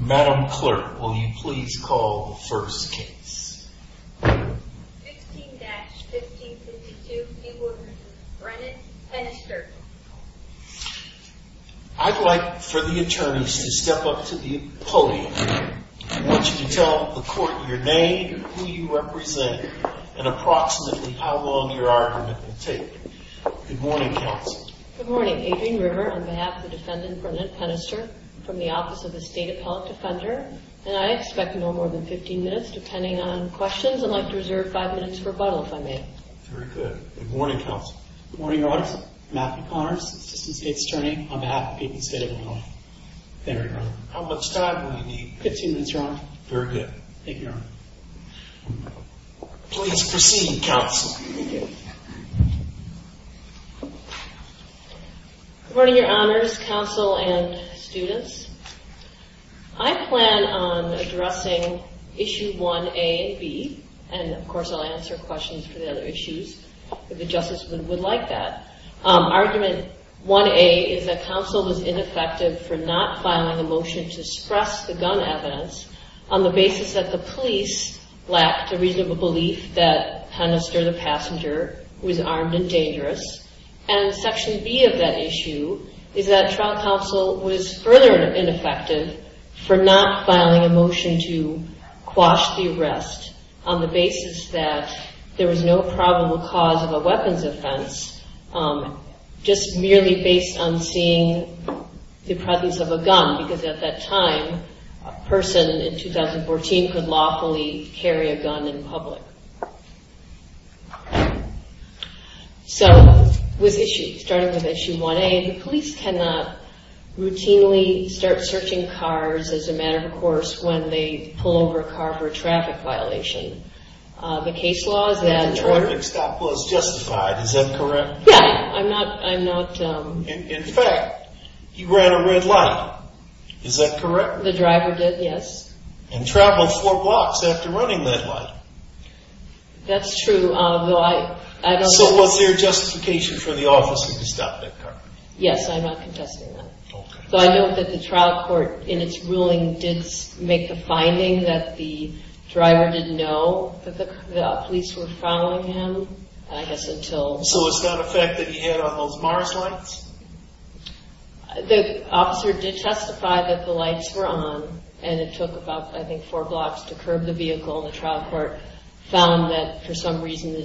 Madam Clerk, will you please call the first case? 16-1562 B. Woodward v. Brennan v. Penister I'd like for the attorneys to step up to the podium. I want you to tell the court your name, who you represent, and approximately how long your argument will take. Good morning, counsel. Good morning, Adrienne River, on behalf of the defendant, Brennan Penister, from the Office of the State Appellate Defender. And I expect no more than 15 minutes, depending on questions. I'd like to reserve 5 minutes for rebuttals, if I may. Very good. Good morning, counsel. Good morning, Your Honor. Matthew Connors, Assistant State Attorney, on behalf of the people of the state of Illinois. Thank you, Your Honor. How much time do I need? 15 minutes, Your Honor. Very good. Thank you, Your Honor. Please proceed, counsel. Thank you. Good morning, Your Honors, counsel, and students. I plan on addressing Issues 1A and B. And, of course, I'll answer questions for the other issues, if the justices would like that. Argument 1A is that counsel was ineffective for not filing a motion to suppress the gun evidence on the basis that the police lacked a reasonable belief that Penister, the passenger, was armed and dangerous. And Section B of that issue is that trial counsel was further ineffective for not filing a motion to quash the arrest on the basis that there was no probable cause of a weapons offense, just merely based on seeing the presence of a gun, because at that time, a person in 2014 could lawfully carry a gun in public. So, with issues starting with Issue 1A, the police cannot routinely start searching cars as a matter of course when they pull over a car for a traffic violation. The case law is that- The traffic stop was justified, is that correct? Yes, I'm not- In fact, you ran a red light, is that correct? The driver did, yes. And traveled four blocks after running that light. That's true, although I don't- So, was there justification for the officer to stop that car? Yes, I'm not contesting that. So, I note that the trial court, in its ruling, didn't make the finding that the driver didn't know that the police were following him, I guess until- So, it's not a fact that he had on those mars lights? The officer did testify that the lights were on, and it took about, I think, four blocks to curb the vehicle. The trial court found that, for some reason, the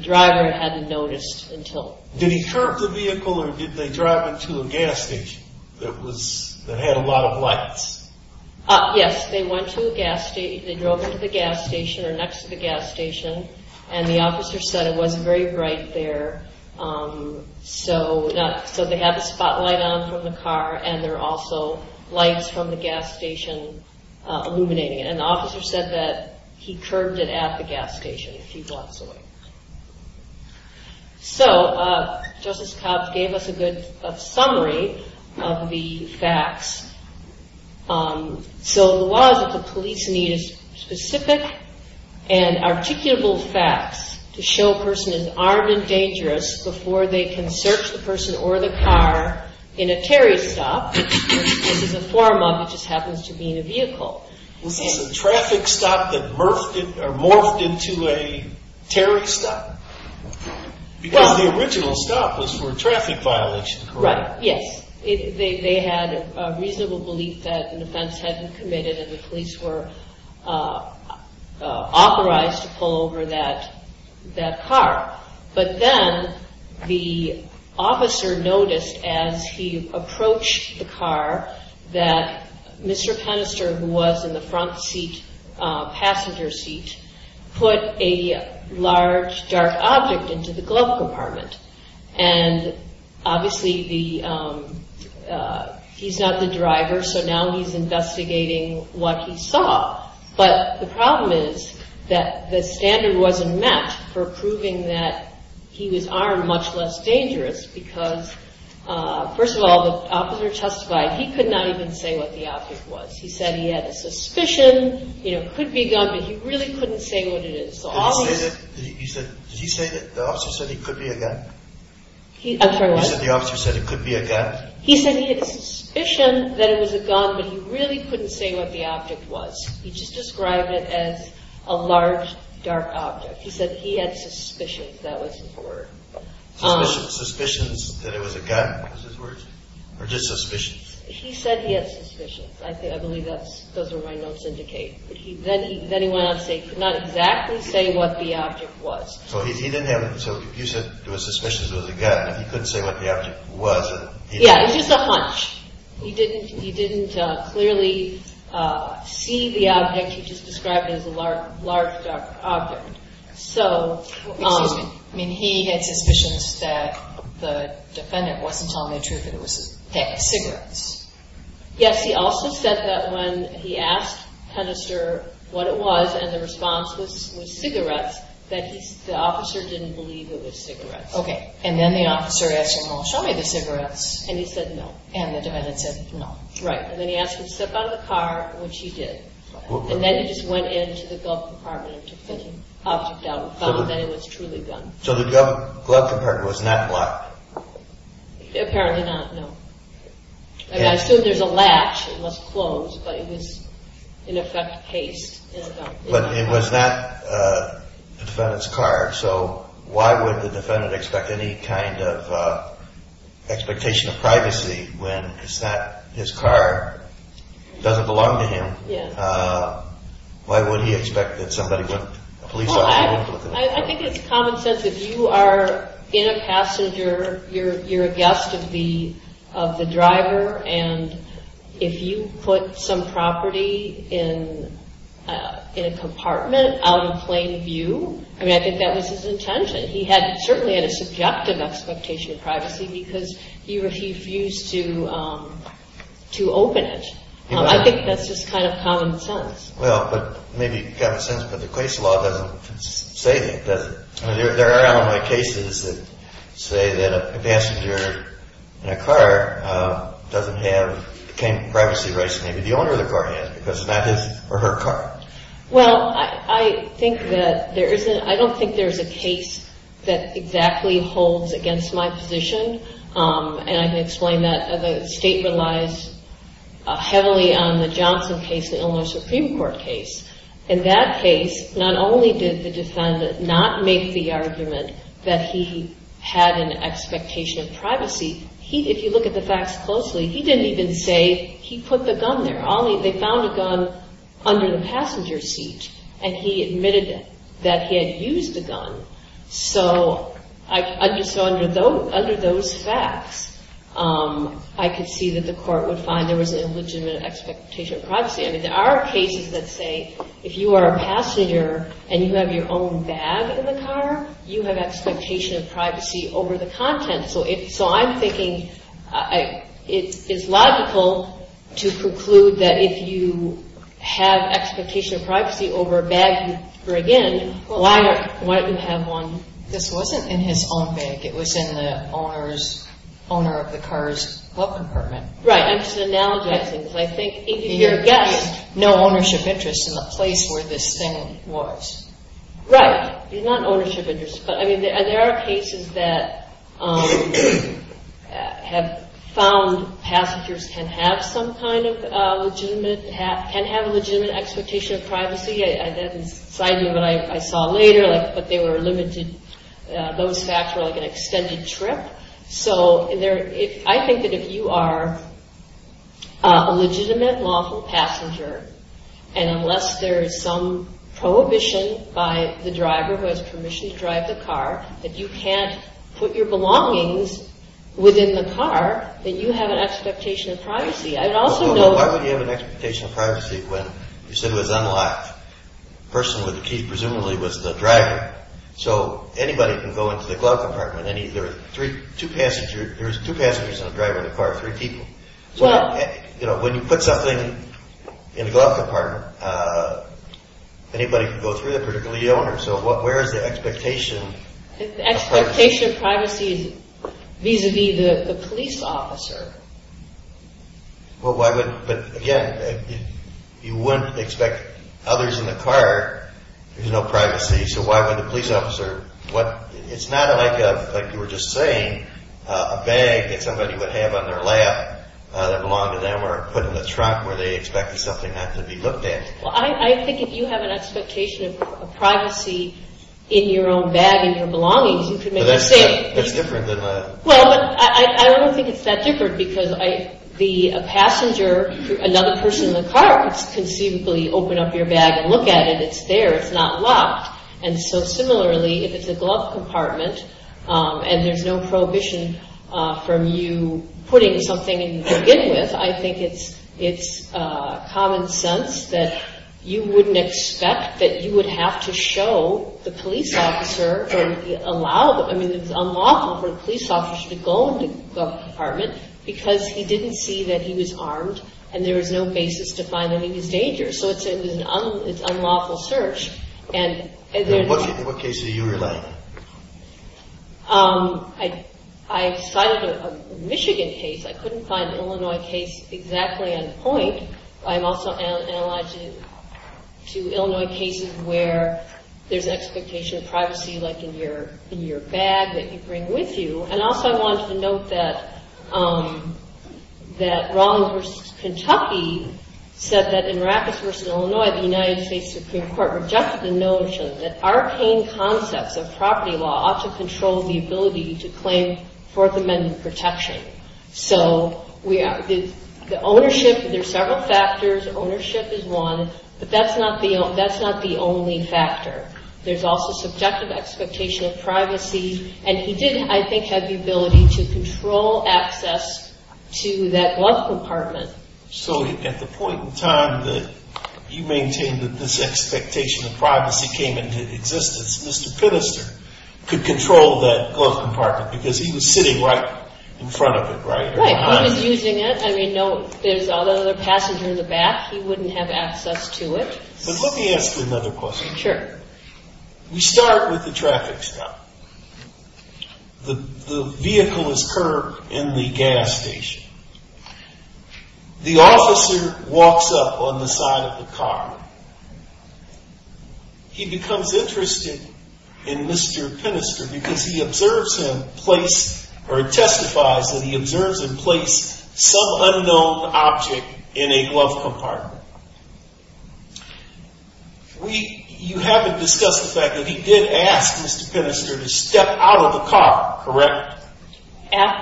driver hadn't noticed until- Did he curb the vehicle, or did they drive into a gas station that had a lot of lights? Yes, they went to a gas station. They drove into the gas station, or next to the gas station, and the officer said it wasn't very bright there, so they had the spotlight on from the car, and there were also lights from the gas station illuminating it, and the officer said that he curbed it at the gas station, if he was going. So, Justice Cox gave us a good summary of the facts. So, it was that the police needed specific and articulable facts to show a person is armed and dangerous before they can search the person or the car in a terrorist stop, which is a form of what just happens to be in a vehicle. A traffic stop that morphed into a terrorist stop? Because the original stop was for a traffic violation, correct? Right, yes. They had a reasonable belief that an offense had been committed, and the police were authorized to pull over that car. But then, the officer noticed, as he approached the car, that Mr. Penister, who was in the front passenger seat, put a large, dark object into the glove compartment. And, obviously, he's not the driver, so now he's investigating what he saw. But the problem is that the standard wasn't met for proving that he was armed, much less dangerous, because, first of all, the officer testified he could not even say what the object was. He said he had a suspicion that it could be a gun, but he really couldn't say what it is. Did he say that the officer said it could be a gun? I'm sorry, what? He said the officer said it could be a gun. He said he had a suspicion that it was a gun, but he really couldn't say what the object was. He just described it as a large, dark object. He said he had suspicions, that was his word. Suspicions that it was a gun, is his word? Or just suspicions? He said he had suspicions. I believe those are my notes indicating. Then he went on to say he could not exactly say what the object was. So, he said there were suspicions it was a gun, but he couldn't say what the object was. Yeah, it was just a hunch. He didn't clearly see the object. He just described it as a large, dark object. So, he had suspicions that the defendant, or, to tell the truth, it was a cigarette. Yes, he also said that when he asked the testister what it was, and the response was cigarette, that the officer didn't believe it was cigarette. Okay. And then the officer asked him, well, show me the cigarette. And he said no. And the defendant said no. Right. And then he asked him to step out of the car, which he did. And then he just went into the glove compartment and took the object out and found that it was truly a gun. So, the glove compartment was not locked? Apparently not, no. And I assume there's a latch that must close, but it was an effect case in a dark room. But it was not the defendant's car, so why would the defendant expect any kind of expectation of privacy when it's not his car, it doesn't belong to him. Yes. Why would he expect that somebody would, a police officer would? Well, I think it's common sense that you are in a passenger, you're a guest of the driver, and if you put some property in a compartment out of plain view, I mean, I think that was his intention. He had certainly a subjective expectation of privacy because he refused to open it. I think that's just kind of common sense. Well, but maybe it's common sense, but the case law doesn't say anything. There are a lot of cases that say that a passenger in a car doesn't have the kind of privacy rights maybe the owner of the car has, because it's not his or her car. Well, I don't think there's a case that exactly holds against my position, and I can explain that. The statement lies heavily on the Johnson case, the Illinois Supreme Court case. In that case, not only did the defendant not make the argument that he had an expectation of privacy, if you look at the facts closely, he didn't even say he put the gun there. They found a gun under the passenger seat, and he admitted that he had used the gun. So under those facts, I could see that the court would find there was an illegitimate expectation of privacy. I mean, there are cases that say if you are a passenger and you have your own bag in the car, you have expectation of privacy over the content. So I'm thinking it's logical to conclude that if you have expectation of privacy over a bag you bring in, why wouldn't you have one? This wasn't in his own bag. It was in the owner of the car's book compartment. Right. I think if you're getting no ownership interest in the place where this thing was. Right. It's not ownership interest. But I mean, there are cases that have found passengers can have some kind of legitimate expectation of privacy. That doesn't excite you, but I saw later that they were limited. Those facts were like an extended script. So I think that if you are a legitimate lawful passenger, and unless there is some prohibition by the driver, who has permission to drive the car, that you can't put your belongings within the car, then you have an expectation of privacy. I'd also know... Well, why would you have an expectation of privacy when you said it was unlocked? The person with the key presumably was the driver. So anybody can go into the glove compartment. There are two passengers and a driver in the car, three people. When you put something in the glove compartment, anybody can go through it, particularly the owner. So where is the expectation? The expectation of privacy is vis-a-vis the police officer. Well, why would... But again, you wouldn't expect others in the car. There's no privacy. So why would the police officer... It's not like you were just saying, a bag that somebody would have on their lap that belonged to them or put in the truck where they expected something not to be looked at. I think if you have an expectation of privacy in your own bag and your belongings, you can make a statement. So that's different than... Well, I don't think it's that different because a passenger, another person in the car, can simply open up your bag and look at it. It's there. It's not locked. And so similarly, if it's a glove compartment and there's no prohibition from you putting something in it, I think it's common sense that you wouldn't expect that you would have to show the police officer or allow... I mean, it's unlawful for a police officer to go into a glove compartment because he didn't see that he was armed and there was no basis to find him in danger. So it's an unlawful search. And then... In what case are you relying? I... In the Michigan case, I couldn't find an Illinois case exactly on point. I'm also analyzing two Illinois cases where there's an expectation of privacy like in your bag that you bring with you. And also, I wanted to note that that Rollins v. Kentucky said that in Raffles v. Illinois, the United States Supreme Court rejected the notion that arcane concepts of property law also control the ability to claim Fourth Amendment protection. So, the ownership... There's several factors. Ownership is one. But that's not the only factor. There's also subjective expectation of privacy. And he didn't, I think, have the ability to control access to that glove compartment. So, at the point in time that you maintain that this expectation of privacy came into existence, Mr. Pinnister could control that glove compartment because he was sitting right in front of it, right? Right. He was using it. I mean, there's another passenger in the back. He wouldn't have access to it. But let me ask you another question. Sure. We start with the traffic stop. The vehicle is curved in the gas station. The officer walks up on the side of the car. He becomes interested in Mr. Pinnister because he observes him place or testifies when he observes him place some unknown object in a glove compartment. You haven't discussed the fact that he did ask Mr. Pinnister to step out of the car, correct?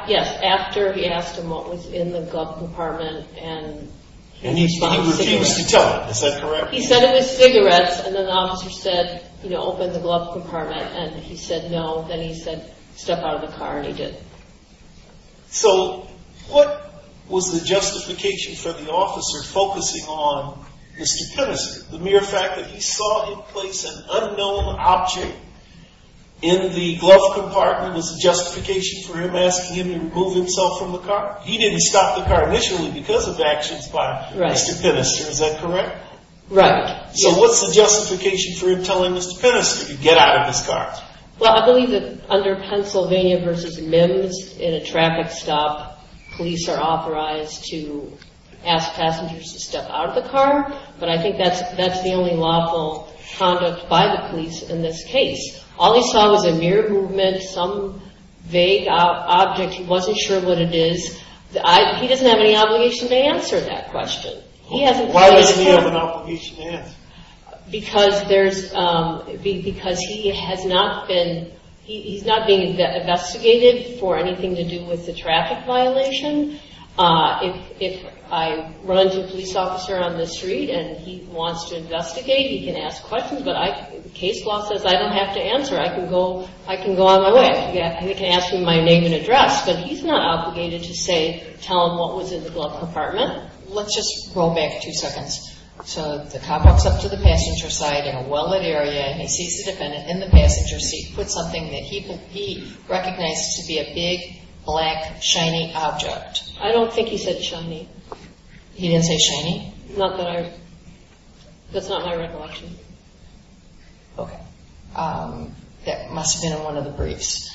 Yes, after he asked him what was in the glove compartment. And he refused to tell him. Is that correct? He said it was cigarettes. And then the officer said, you know, And he said no. Then he said step out of the car and he did. So what was the justification for the officer focusing on Mr. Pinnister? The mere fact that he saw him place an unknown object in the glove compartment was a justification for him asking him to remove himself from the car? He didn't stop the car initially because of actions by Mr. Pinnister. Is that correct? Right. So what's the justification for him telling Mr. Pinnister to get out of the car? Well, I believe that under Pennsylvania v. MIMS, in a traffic stop, police are authorized to ask passengers to step out of the car. But I think that's the only lawful conduct by the police in this case. All he saw was a mere movement, some vague object. He wasn't sure what it is. He doesn't have any obligation to answer that question. Why doesn't he have an obligation to answer? Because he's not being investigated for anything to do with the traffic violation. If I run into a police officer on the street and he wants to investigate, he can ask questions. Case law says I don't have to answer. I can go on my way. I can ask him my name and address. But he's not obligated to tell him what was in the glove compartment. Let's just roll back two seconds. So the cop walks up to the passenger side in a well-lit area and he sees the defendant in the passenger seat with something that he recognizes to be a big, black, shiny object. I don't think he said shiny. He didn't say shiny? No. That's not my recollection. Okay. That must have been in one of the briefs.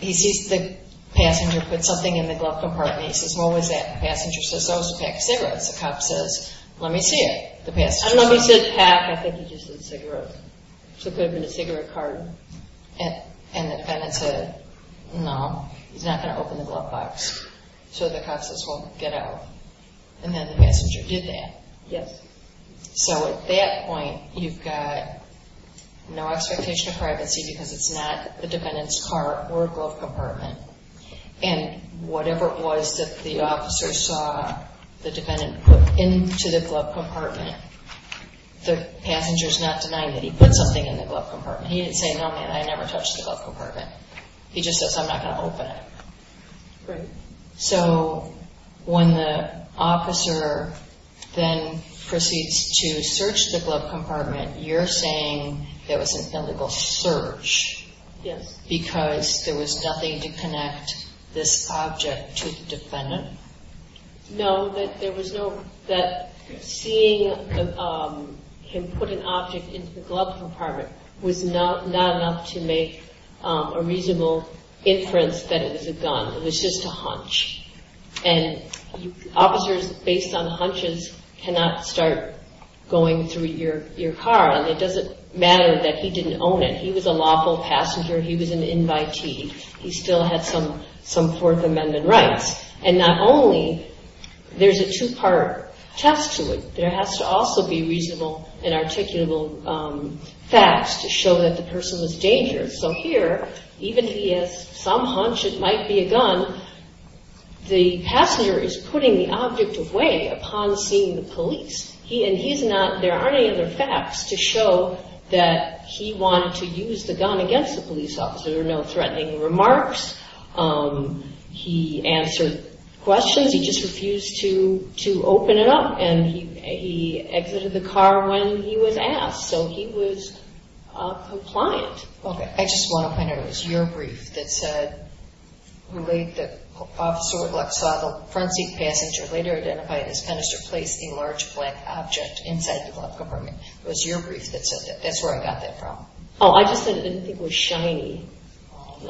He sees the passenger put something in the glove compartment. He says, what was that? The passenger says, oh, it's a packed cigarette. The cop says, let me see it. I don't know if he said pack. I think he just said cigarette. So it could have been a cigarette carton. And the defendant says, no, he's not going to open the glove box. So the cop says, well, get out. And then the passenger did that. Yes. So at that point, you've got no expectation of privacy because it's not the defendant's car or glove compartment. And whatever it was that the officer saw the defendant put into the glove compartment, the passenger's not denying that he put something in the glove compartment. He didn't say, no, I never touched the glove compartment. He just said, I'm not going to open it. Right. So when the officer then proceeds to search the glove compartment, you're saying there was a physical search. Yes. Because there was nothing to connect this object to the defendant? No, that seeing him put an object into the glove compartment was not enough to make a reasonable inference that it was a gun. It was just a hunch. And officers, based on hunches, cannot start going through your car. And it doesn't matter that he didn't own it. He was a lawful passenger. He was an invitee. He still had some Fourth Amendment rights. And not only there's a two-part test to it, there has to also be reasonable and articulable facts to show that the person was dangerous. So here, even if he had some hunch it might be a gun, there aren't any other facts to show that he wanted to use the gun against the police officer. There are no threatening remarks. He answered questions. He just refused to open it up. And he exited the car when he was asked. So he was compliant. OK. I just want to point out, it was your brief that said, Officer with a black swaddle, front seat passenger, later identified as a pedestrian, placed a large black object inside the glove compartment. It was your brief that said that. That's where I got that from. Oh, I just said it didn't think it was shiny.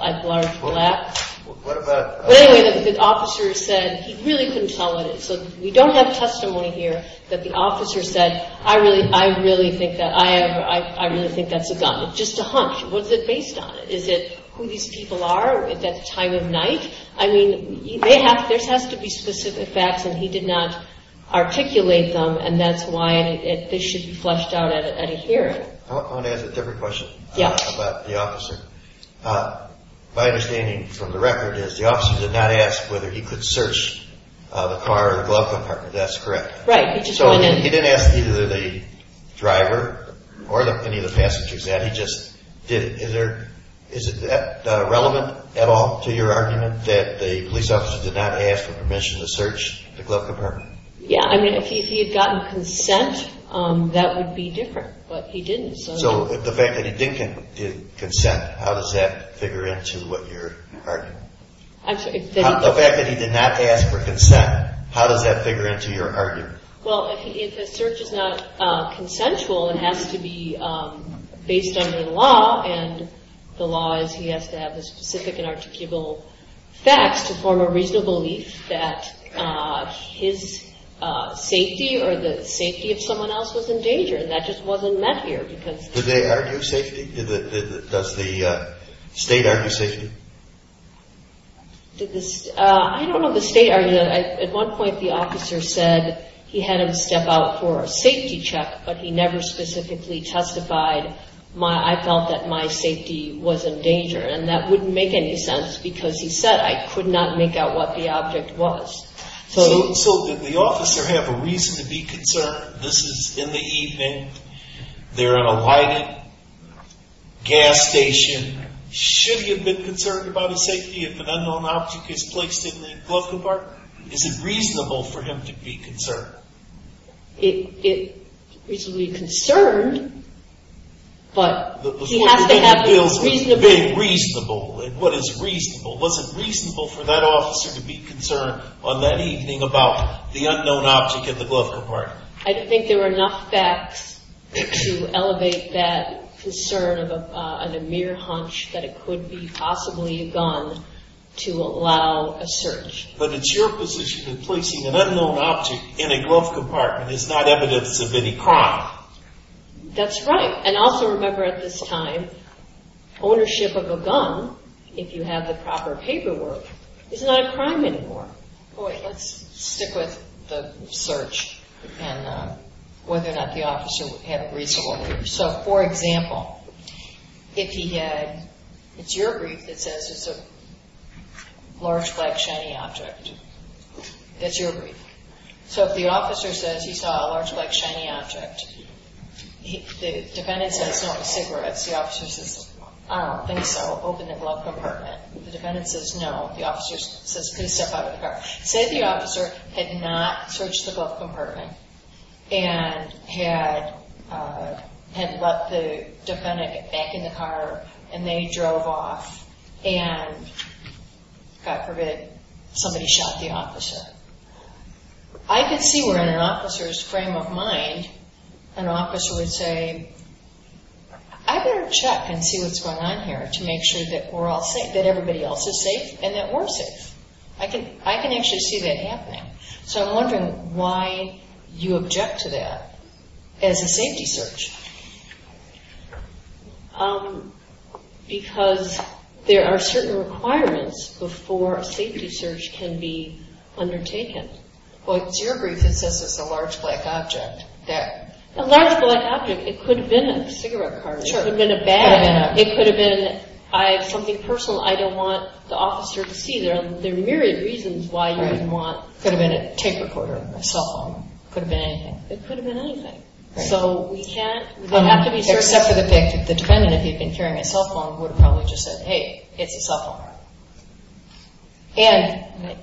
As large black. What about- Wait a minute. The officer said, he really couldn't tell what it was. We don't have testimony here that the officer said, I really think that's a gun. It's just a hunch. What's it based on? Is it who these people are? Is that time of night? I mean, there has to be specific facts, and he did not articulate them, and that's why it should be fleshed out at a hearing. I want to ask a different question about the officer. My understanding from the record is, the officer did not ask whether he could search the car or glove compartment. That's correct. Right. He didn't ask either the driver or any of the passengers that. He just did. Is it relevant at all to your argument that the police officer did not ask for permission to search the glove compartment? Yeah. I mean, if he had gotten consent, that would be different. But he didn't. So the fact that he didn't get consent, how does that figure into what you're arguing? I'm sorry. The fact that he did not ask for consent, how does that figure into your argument? Well, if the search is not consensual, it has to be based on the law, and the law is he has to have the specific and articulable facts to form a reasonable belief that his safety or the safety of someone else was in danger, and that just wasn't met here. Did they argue safety? Does the state argue safety? I don't know if the state argued that. At one point the officer said he had him step out for a safety check, but he never specifically testified, I felt that my safety was in danger. And that wouldn't make any sense because he said I could not make out what the object was. So did the officer have a reason to be concerned? This is in the evening. They're in a white gas station. Should he have been concerned about his safety if an unknown object is placed in the glove compartment? Is it reasonable for him to be concerned? He should be concerned, but he has to have reason to be. What is reasonable? Was it reasonable for that officer to be concerned on that evening about the unknown object in the glove compartment? I don't think there are enough facts to elevate that concern of a mere hunch that it could be possibly a gun to allow a search. But it's your position that placing an unknown object in a glove compartment is not evidence of any crime. That's right. And also remember at this time, ownership of a gun, if you have the proper paperwork, is not a crime anymore. Let's stick with the search and whether or not the officer had a reason to worry. So, for example, if he had, it's your brief, it says it's a large, black, shiny object. It's your brief. So if the officer says he saw a large, black, shiny object, the defendant says no, it's a cigarette. The officer says, I don't think so, open the glove compartment. The defendant says no. The officer says, please step out of the car. It says the officer had not searched the glove compartment and had let the defendant get back in the car, and they drove off and, God forbid, somebody shot the officer. I can see where in an officer's frame of mind an officer would say, I better check and see what's going on here to make sure that everybody else is safe and that we're safe. I can actually see that happening. So I'm wondering why you object to that as a safety search. Because there are certain requirements before a safety search can be undertaken. Well, it's your brief. It says it's a large, black object. It's a large, black object. It could have been a cigarette carton. It could have been a bag. It could have been something personal. I don't want the officer to see them. There are myriad reasons why you wouldn't want it. It could have been a tape recorder, a cell phone. It could have been anything. It could have been anything. So we can't, we don't have to be sure. Except for the case if the defendant, if he had been carrying a cell phone, would have probably just said, hey, get your cell phone out. And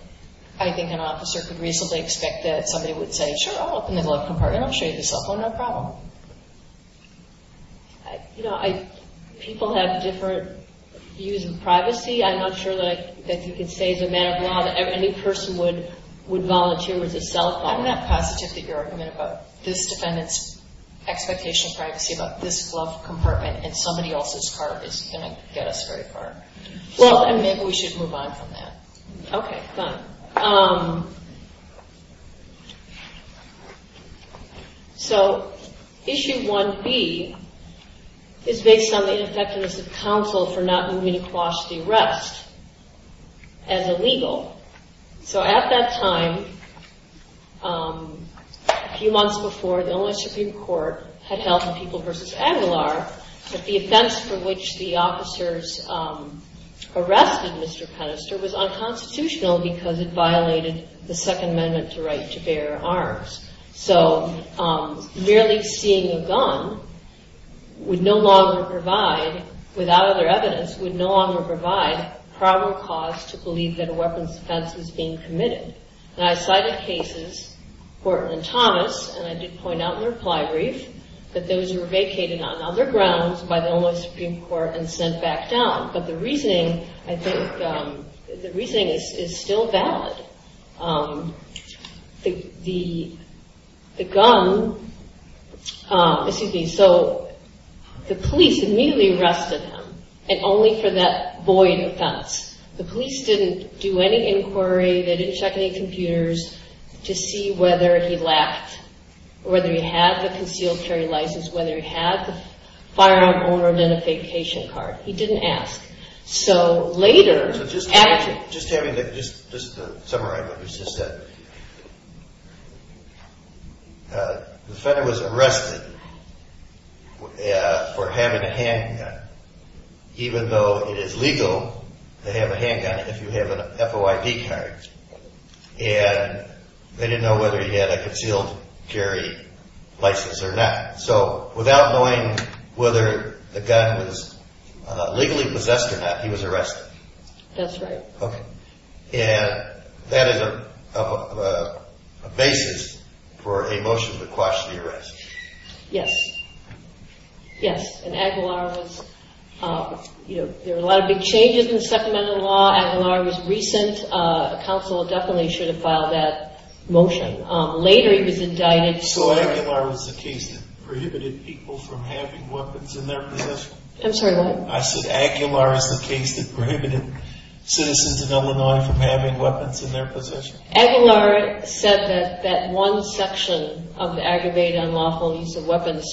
I think an officer could reasonably expect that somebody would say, sure, I'll open the glove compartment. I'll show you the cell phone. No problem. You know, people have different views of privacy. I'm not sure that you can say the amount of money a new person would volunteer with a cell phone. I'm not positive you're arguing about this defendant's expectation of privacy about this glove compartment. And somebody else's car is going to get a cigarette carton. Well, maybe we should move on from that. Okay, fine. So Issue 1B is based on the Inspectorate's counsel for not moving across the arrest as illegal. So at that time, a few months before, the Illinois Tribune Court had held the People v. Aguilar. But the offense for which the officers arrested Mr. Penister was unconstitutional because it violated the Second Amendment's right to bear arms. So merely seeing a gun would no longer provide, without other evidence, would no longer provide probable cause to believe that a weapons offense was being committed. And I cited cases, Horton and Thomas, and I did point out in reply briefs, that those were vacated on other grounds by the Illinois Supreme Court and sent back down. But the reasoning, I think, the reasoning is still valid. The gun, excuse me, so the police immediately arrested him, and only for that void offense. The police didn't do any inquiry, they didn't check any computers to see whether he lacked, whether he had a concealed carry license, whether he had a firearm owner identification card. He didn't ask. So later, Just having the, just to summarize what you just said. The felon was arrested for having a handgun, even though it is legal to have a handgun if you have an FOID card. And they didn't know whether he had a concealed carry license or not. So, without knowing whether the gun was legally possessed or not, he was arrested. That's right. Okay. And that is a basis for a motion to quash the arrest. Yes. Yes, and Aguilar was, you know, there were a lot of big changes in supplemental law. Aguilar was recent. A counsel definitely should have filed that motion. Later, he was indicted for Aguilar is the case that prohibited people from having weapons in their possession. I'm sorry, what? I said Aguilar is the case that prohibited citizens in Illinois from having weapons in their possession. Aguilar said that that one section of the aggravated unlawful use of weapons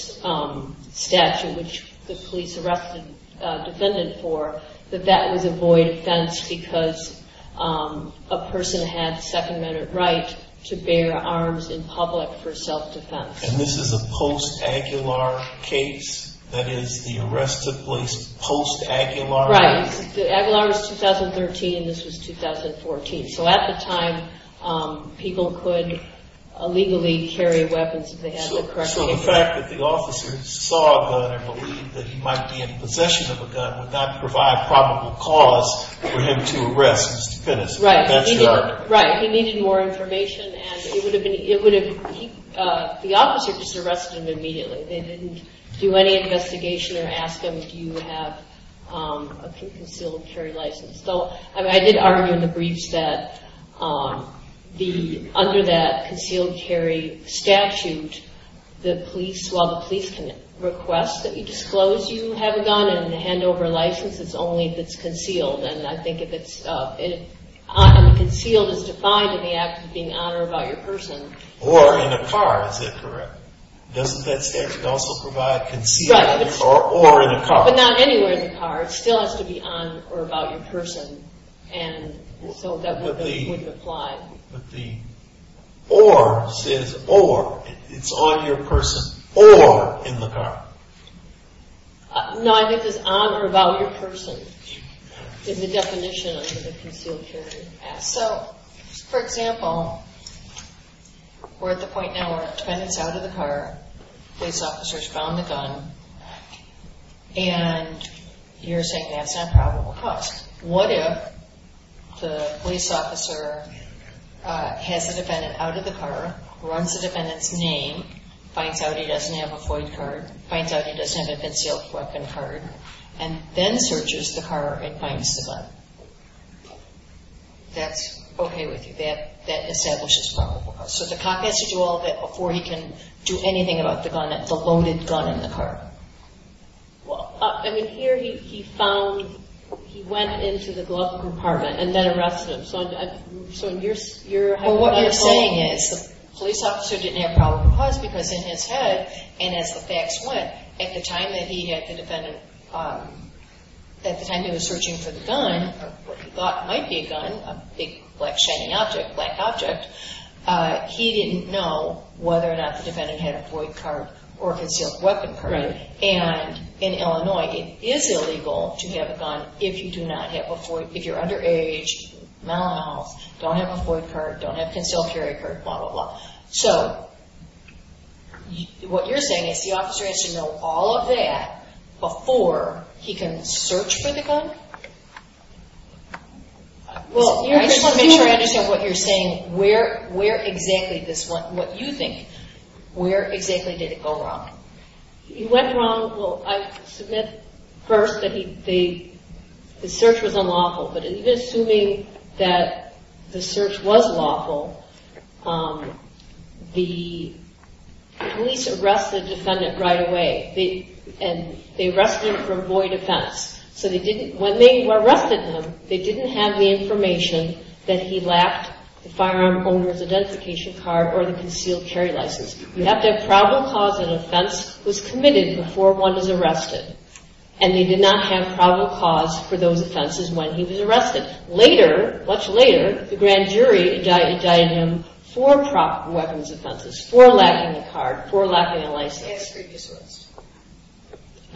statute, which the police arrested a defendant for, that that would avoid offense because a person had second-minute right to bear arms in public for self-defense. And this is a post-Aguilar case? That is, the arrest took place post-Aguilar? Right. Aguilar was 2013. This was 2014. So, at the time, people could illegally carry weapons if they had the correct... So, the fact that the officer saw a gun and believed that he might be in possession of a gun would not provide probable cause for him to arrest this defendant. Right. He needs more information, and it would have been... The officer just arrested him immediately. They didn't do any investigation or ask him if he would have a concealed carry license. Well, I did argue in the briefs that under that concealed carry statute, while the police can request that you disclose you have a gun and hand over a license, it's only if it's concealed. And I think if it's concealed, it's defined in the act of being on or about your person. Or in a car, is that correct? Doesn't that statute also provide concealed carry? Right. Or in a car? But not anywhere in the car. It still has to be on or about your person, and so that would be... Would be. Would be. Or says, or, it's on your person, or in the car. No, I think it's on or about your person in the definition of the concealed carry act. So, for example, we're at the point now where a friend is out of the car, police officer's found the gun, and you're saying that's not probable cause. What if the police officer has the defendant out of the car, warns the defendant's name, finds out he doesn't have a police card, finds out he doesn't have a concealed weapon card, and then searches the car and finds the gun? That's okay with you? That establishes probable cause. So the cop has to do all of that before he can do anything about the gun, the loaded gun in the car. Well, I mean, here he found, he went into the glove compartment and then arrested him. So you're saying that the police officer didn't have probable cause because in his head, and as the facts went, at the time that he had the defendant, at the time he was searching for the gun, what he thought might be a gun, a big black shining object, black object, he didn't know whether or not the defendant had a void card or a concealed weapon card. And in Illinois, it is illegal to have a gun if you do not have a void, if you're underage, male, don't have a void card, don't have a concealed carry card, blah, blah, blah. So what you're saying is the officer has to know all of that before he can search for the gun? Well, I just want to make sure I understand what you're saying. Where exactly this went, what you think, where exactly did it go wrong? It went wrong, well, I submit first that the search was unlawful, but in assuming that the search was lawful, the police arrested the defendant right away. And they arrested him for a void offense. So when they arrested him, they didn't have the information that he lacked a firearm, owner's identification card, or a concealed carry license. You have that probable cause of offense was committed before one is arrested, and they did not have probable cause for those offenses when he was arrested. Later, much later, the grand jury adjudicated him for weapons offenses, for lacking a card, for lacking a license. And his previous arrest.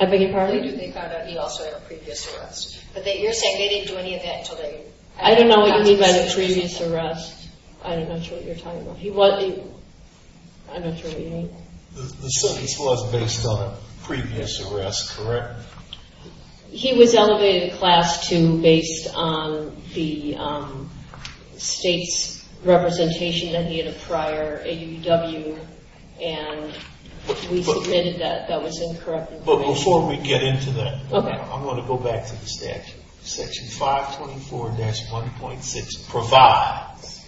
I beg your pardon? They found out he also had a previous arrest. But you're saying they didn't do any of that until they… I don't know what you mean by the previous arrest. I'm not sure what you're talking about. He wasn't, I'm not sure what you mean. The search was based on a previous arrest, correct? He was elevated to class 2 based on the state representation that he had a prior AWW, and we admitted that that was incorrect. But before we get into that, I'm going to go back to the statute. Section 524-1.6 provides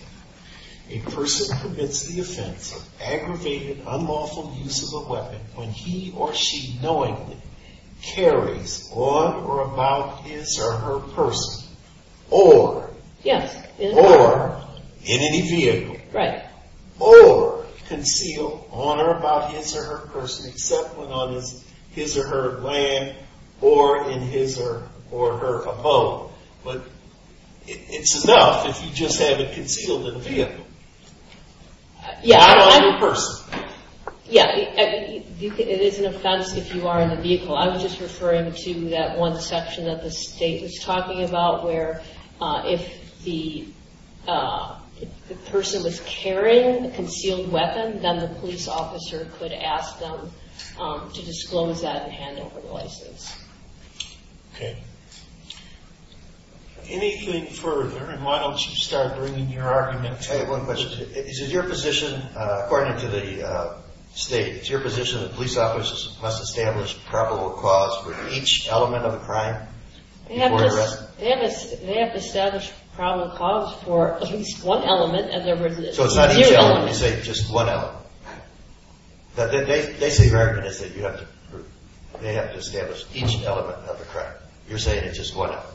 a person commits the offense of aggregated, unlawful use of a weapon when he or she knowingly carries on or about his or her person or in any vehicle or concealed on or about his or her person except when on his or her land or in his or her abode. But it's enough if you just have it concealed in a vehicle. Yeah, it is an offense if you are in a vehicle. I was just referring to that one section that the state was talking about where if the person was carrying a concealed weapon, then the police officer could ask them to disclose that and hand over the license. Okay. Anything further, and why don't you start bringing your argument? I'll tell you one question. Is it your position, according to the state, is it your position that police officers must establish probable cause for each element of the crime before arrest? They have to establish probable cause for at least one element. So it's not just one element. Basically, your argument is that they have to establish each element of the crime. You're saying it's just one element.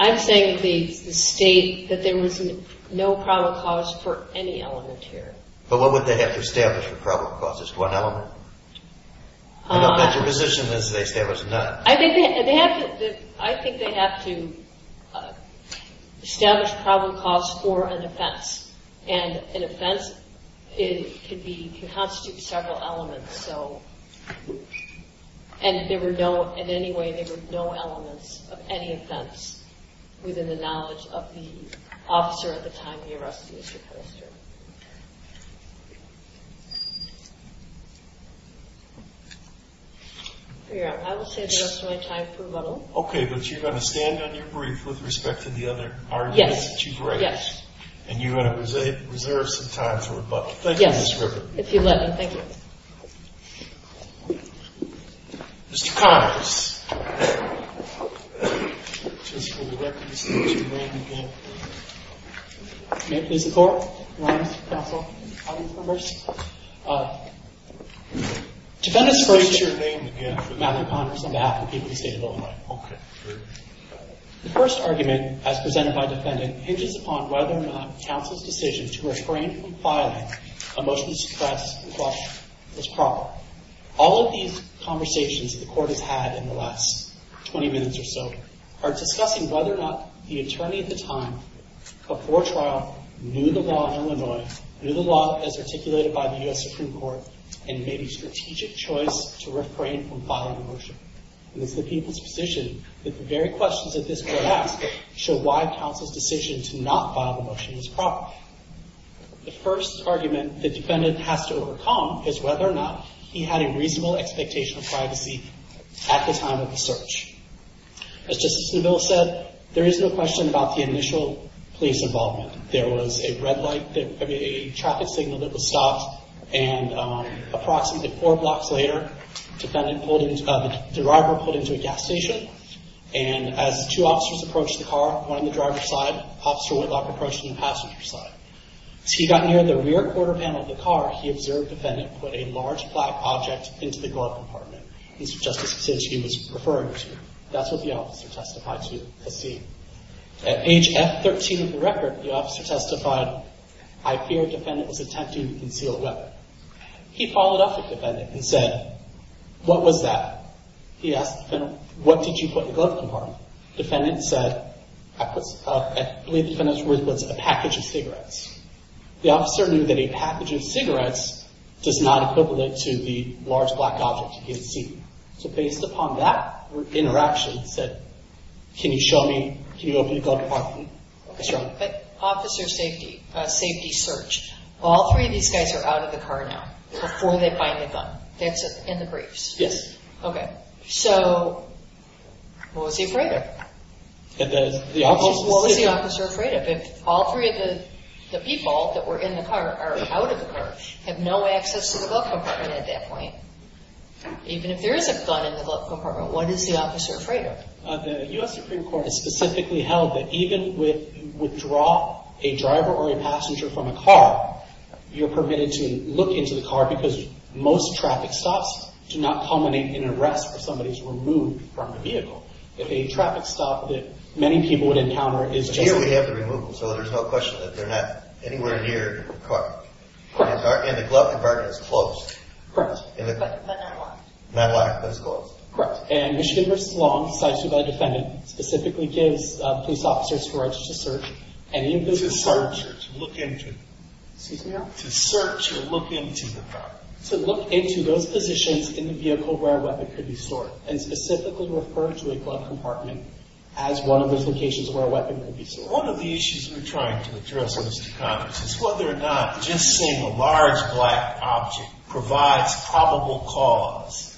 I'm saying the state that there would be no probable cause for any element here. But what would they have to establish for probable cause, just one element? Your position is they establish none. And an offense can constitute several elements. And in any way, there were no elements of any offense within the knowledge of the officer at the time of the arrest. I will save the rest of my time for a little. Okay, but you're going to stand on your brief with respect to the other arguments that you've raised. Yes. And you're going to reserve some time for rebuttal. Yes. If you let me. Thank you. Mr. Connors. May it please the Court, Your Honor, counsel, audience members. Defendants raise your name again for the matter of Congress on behalf of the people of the state of Illinois. Okay. The first argument, as presented by the defendant, hinges upon whether or not counsel's decision to refrain from filing a motion of distress request was proper. All of these conversations the Court has had in the last 20 minutes or so are discussing whether or not the attorney at the time, before trial, knew the law in Illinois, knew the law as articulated by the U.S. Supreme Court, and made a strategic choice to refrain from filing a motion. And it's the people's position that the very questions that this will ask show why counsel's decision to not file a motion was proper. The first argument the defendant has to overcome is whether or not he had a reasonable expectation of privacy at the time of the search. As Justice Neville said, there is no question about the initial police involvement. There was a traffic signal that was stopped, and approximately four blocks later, the driver pulled into a gas station. And as the two officers approached the car, one on the driver's side, the officer on the passenger side. As he got near the rear quarter panel of the car, he observed the defendant put a large flat object into the glove compartment. This is just the situation he was referring to. That's what the officer testified to at the scene. At page F13 of the record, the officer testified, I fear the defendant was attempting to conceal a weapon. He followed up with the defendant and said, what was that? He asked the defendant, what did you put in the glove compartment? The defendant said, I believe the defendant's word was a package of cigarettes. The officer knew that a package of cigarettes does not equivalent to the large black object he had seen. So based upon that interaction, he said, can you show me, can you open the glove compartment? That's right. But officer safety, safety search. All three of these guys are out of the car now before they find the gun. That's in the briefs. Yes. Okay. So, what was he afraid of? The officer was afraid of it. All three of the people that were in the car are out of the car, have no access to the glove compartment at that point. Even if there is a gun in the glove compartment, what is the officer afraid of? The U.S. Supreme Court has specifically held that even with withdraw a driver or a passenger from a car, you're permitted to look into the car because most traffic stops do not culminate in an arrest or somebody's removed from the vehicle. If a traffic stop that many people would encounter is- Here we have the removal, so there's no question that they're not anywhere near the car. Correct. And the glove compartment is closed. Correct. And it's like- Medlock. Medlock is closed. Correct. And Michigan was long decisive by defending, specifically gave police officers the right to search any of these- To search or to look into. Excuse me? To search or look into the car. To look into those positions in the vehicle where a weapon could be stored and specifically refer to a glove compartment as one of those locations where a weapon could be stored. One of the issues we're trying to address in this conference is whether or not just seeing a large black object provides probable cause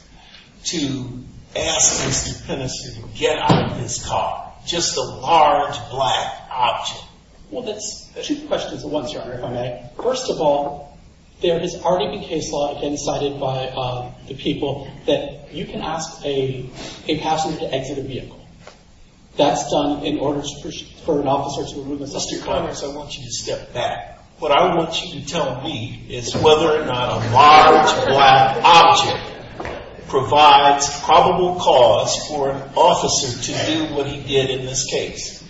to ask the plaintiffs to get out of this car. Just a large black object. Well, there's two questions in one chapter. First of all, there has already been case law that's been cited by the people that you can ask a passenger to exit a vehicle. That's done in order for an officer to remove it. Mr. Connors, I want you to step back. What I want you to tell me is whether or not a large black object provides probable cause for an officer to do what he did in this case.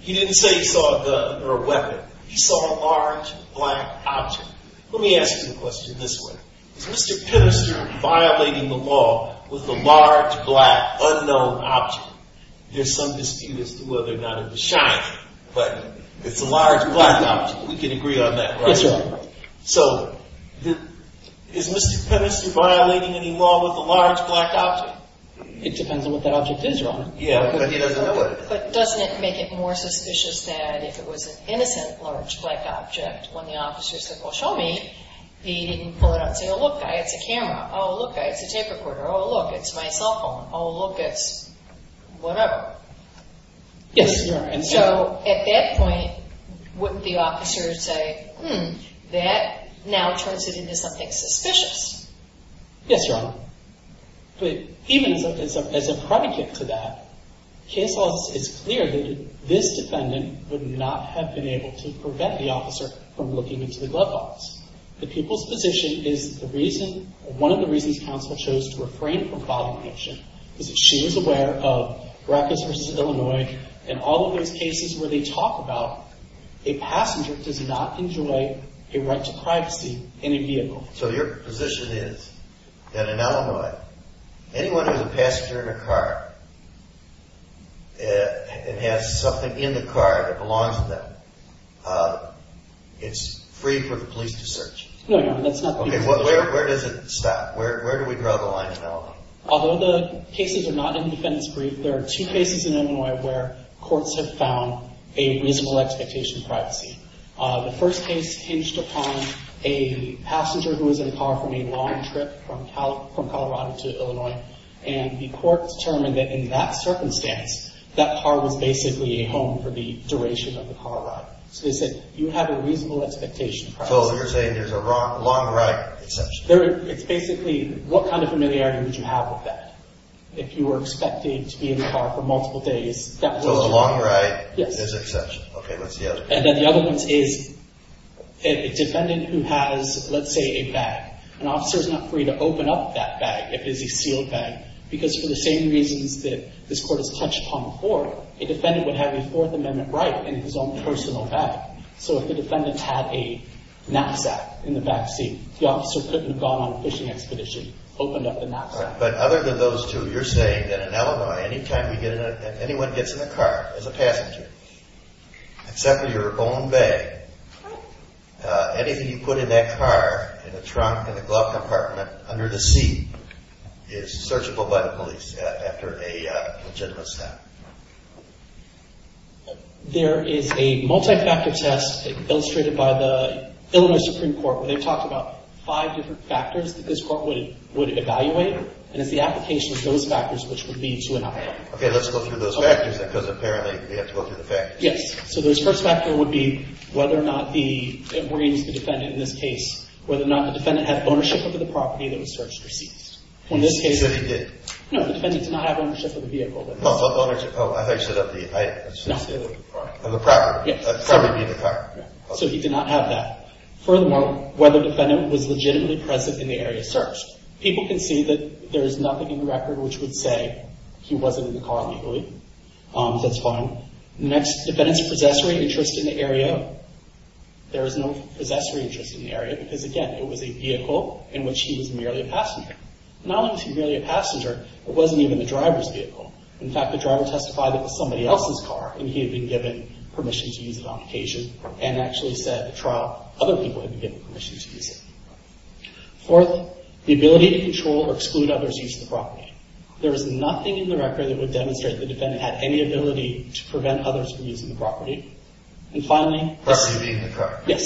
He didn't say he saw a gun or a weapon. He saw a large black object. Let me ask you a question this way. Is Mr. Pemister violating the law with a large black unknown object? There's some dispute as to whether or not it was shot, but it's a large black object. We can agree on that, right? So, is Mr. Pemister violating any law with a large black object? It depends on what that object is, Your Honor. But doesn't it make it more suspicious that if it was an innocent large black object, when the officer said, well, show me, he didn't pull it up and say, oh, look, I have the camera. Oh, look, I have the tape recorder. Oh, look, it's my cell phone. Oh, look, it's whatever. Yes, Your Honor. So, at that point, wouldn't the officer say, hmm, that now turns it into something suspicious? Yes, Your Honor. But even as a predicate to that, case law is clear that this defendant would not have been able to prevent the officer from looking into the glove box. The people's position is one of the reasons counsel chose to refrain from filing an action is that she was aware of Rutgers v. Illinois and all of those cases where they talk about a passenger did not enjoy a right to privacy in a vehicle. So, your position is that in Illinois, anyone who's a passenger in a car and has something in the car that belongs to them, it's free for the police to search. No, Your Honor, that's not true. Okay, where does it stop? Where do we draw the line in Illinois? Although the cases are not in the defendant's brief, there are two cases in Illinois where courts have found a reasonable expectation of privacy. The first case hinged upon a passenger who was in a car for a long trip from Colorado to Illinois, and the court determined that in that circumstance, that car was basically a home for the duration of the car ride. So, they said, you have a reasonable expectation of privacy. So, you're saying there's a long ride exception. It's basically, what kind of familiarity would you have with that? If you were expected to be in the car for multiple days... So, a long ride is an exception. Yes. And then the other one is, if a defendant who has, let's say, a bag, an officer is not free to open up that bag, if it's a sealed bag, because for the same reasons that this court has touched upon before, the defendant would have a Fourth Amendment right in his own personal bag. So, if the defendant had a knapsack in the backseat, the officer couldn't have gone on a fishing expedition, opened up the knapsack. But other than those two, you're saying that in Illinois, any time anyone gets in the car as a passenger, except with your own bag, anything you put in that car, in the trunk, in the glove compartment, under the seat, is searchable by the police after a legitimate stop. There is a multi-factor test illustrated by the Illinois Supreme Court where they talk about five different factors that this court would evaluate, and it's the application of those factors which would lead to an outcome. Okay, let's look through those factors, because apparently we have to look through the factors. Yes. So, the first factor would be whether or not the, and we're going to use the defense in this case, whether or not the defendant had ownership of the property that was searched or seized. In this case, the defendant did. No, the defendant did not have ownership of the vehicle. Oh, I thought you said of the property, the car. So, he did not have that. Furthermore, whether the defendant was legitimately present in the area searched. People can see that there is nothing in the record which would say he wasn't in the car legally. That's fine. Next, defendant's possessory interest in the area. There is no possessory interest in the area, because, again, it was a vehicle in which he was merely a passenger. Not only was he merely a passenger, it wasn't even the driver's vehicle. In fact, the driver testified it was somebody else's car, and he had been given permission to use it on occasion, and actually said at the trial other people had been given permission to use it. Fourth, the ability to control or exclude others' use of the property. There is nothing in the record that would demonstrate the defendant had any ability to prevent others from using the property. And finally, Property being the car. Yes.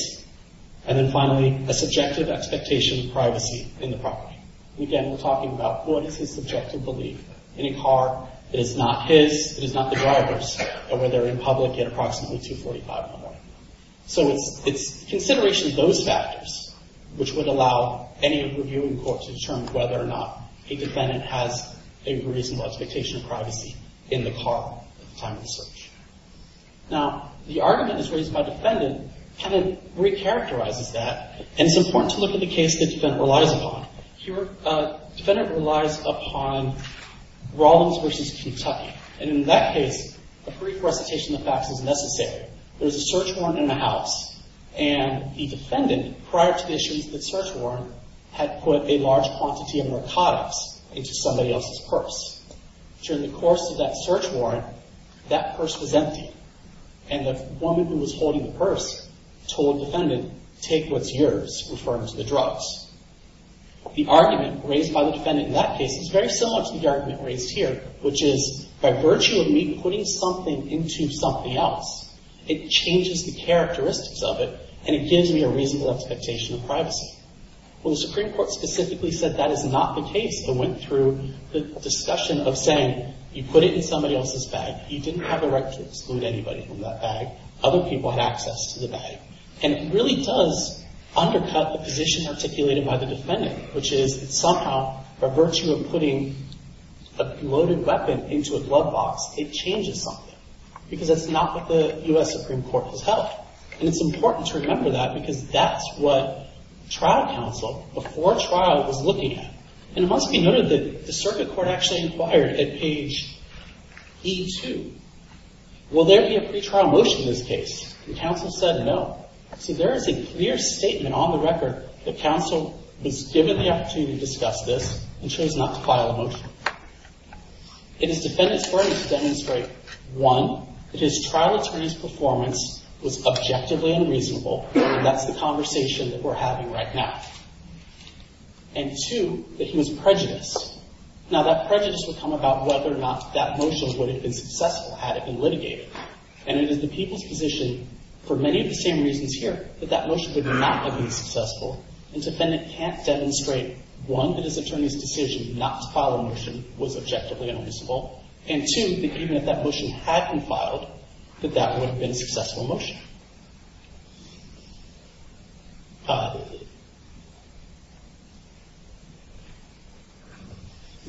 And then finally, a subjective expectation of privacy in the property. Again, we're talking about what is his subjective belief in a car that is not his, that is not the driver's, and where they're in public at approximately $245,000. So it's consideration of those factors which would allow any review in court to determine whether or not a defendant has a reasonable expectation of privacy in the car. Now, the argument that's raised by the defendant kind of re-characterizes that, and it's important to look at the case the defendant relies upon. Here, the defendant relies upon Rollins v. Kentucky. And in that case, a pre-forestation effect was necessary. There was a search warrant in the house, and the defendant, prior to the issuance of the search warrant, had put a large quantity of narcotics into somebody else's purse. During the course of that search warrant, that purse was empty, and the woman who was holding the purse told the defendant, take what's yours in terms of the drugs. The argument raised by the defendant in that case is very similar to the argument raised here, which is, by virtue of me putting something into something else, it changes the characteristics of it, and it gives me a reasonable expectation of privacy. Well, the Supreme Court specifically said that is not the case. It went through the discussion of saying, you put it in somebody else's bag. You didn't have the right to exclude anybody from that bag. Other people had access to the bag. And it really does undercut the position articulated by the defendant, which is, somehow, by virtue of putting a loaded weapon into a glove box, it changes something, because it's not what the U.S. Supreme Court has held. And it's important to remember that, because that's what trial counsel, before trial, was looking at. And it must be noted that the circuit court actually inquired at page E2, will there be a pretrial motion in this case? The counsel said no. See, there is a clear statement on the record that counsel was given the opportunity to discuss this and chose not to file a motion. It is defendant's right to demonstrate, one, that his trial attorney's performance was objectively unreasonable, and that's the conversation that we're having right now. And, two, that he was prejudiced. Now, that prejudice would come about whether or not that motion would have been successful had it been litigated. And it is the people's position, for many of the same reasons here, that that motion would not have been successful, and defendant can't demonstrate, one, that his attorney's decision not to file a motion was objectively unreasonable, and, two, that even if that motion had been filed, that that would have been a successful motion.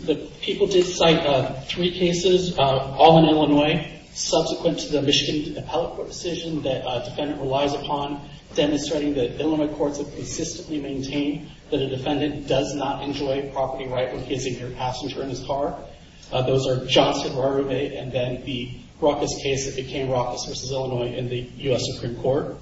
The people did cite three cases, all in Illinois, subsequent to the Michigan East Appellate Court decision that defendant relies upon, demonstrating that Illinois courts have consistently maintained that a defendant does not enjoy property rights when giving your passenger his car. Those are Johnson, Rory Bay, and then the Rockless case that became Rockless v. Illinois in the U.S. Supreme Court.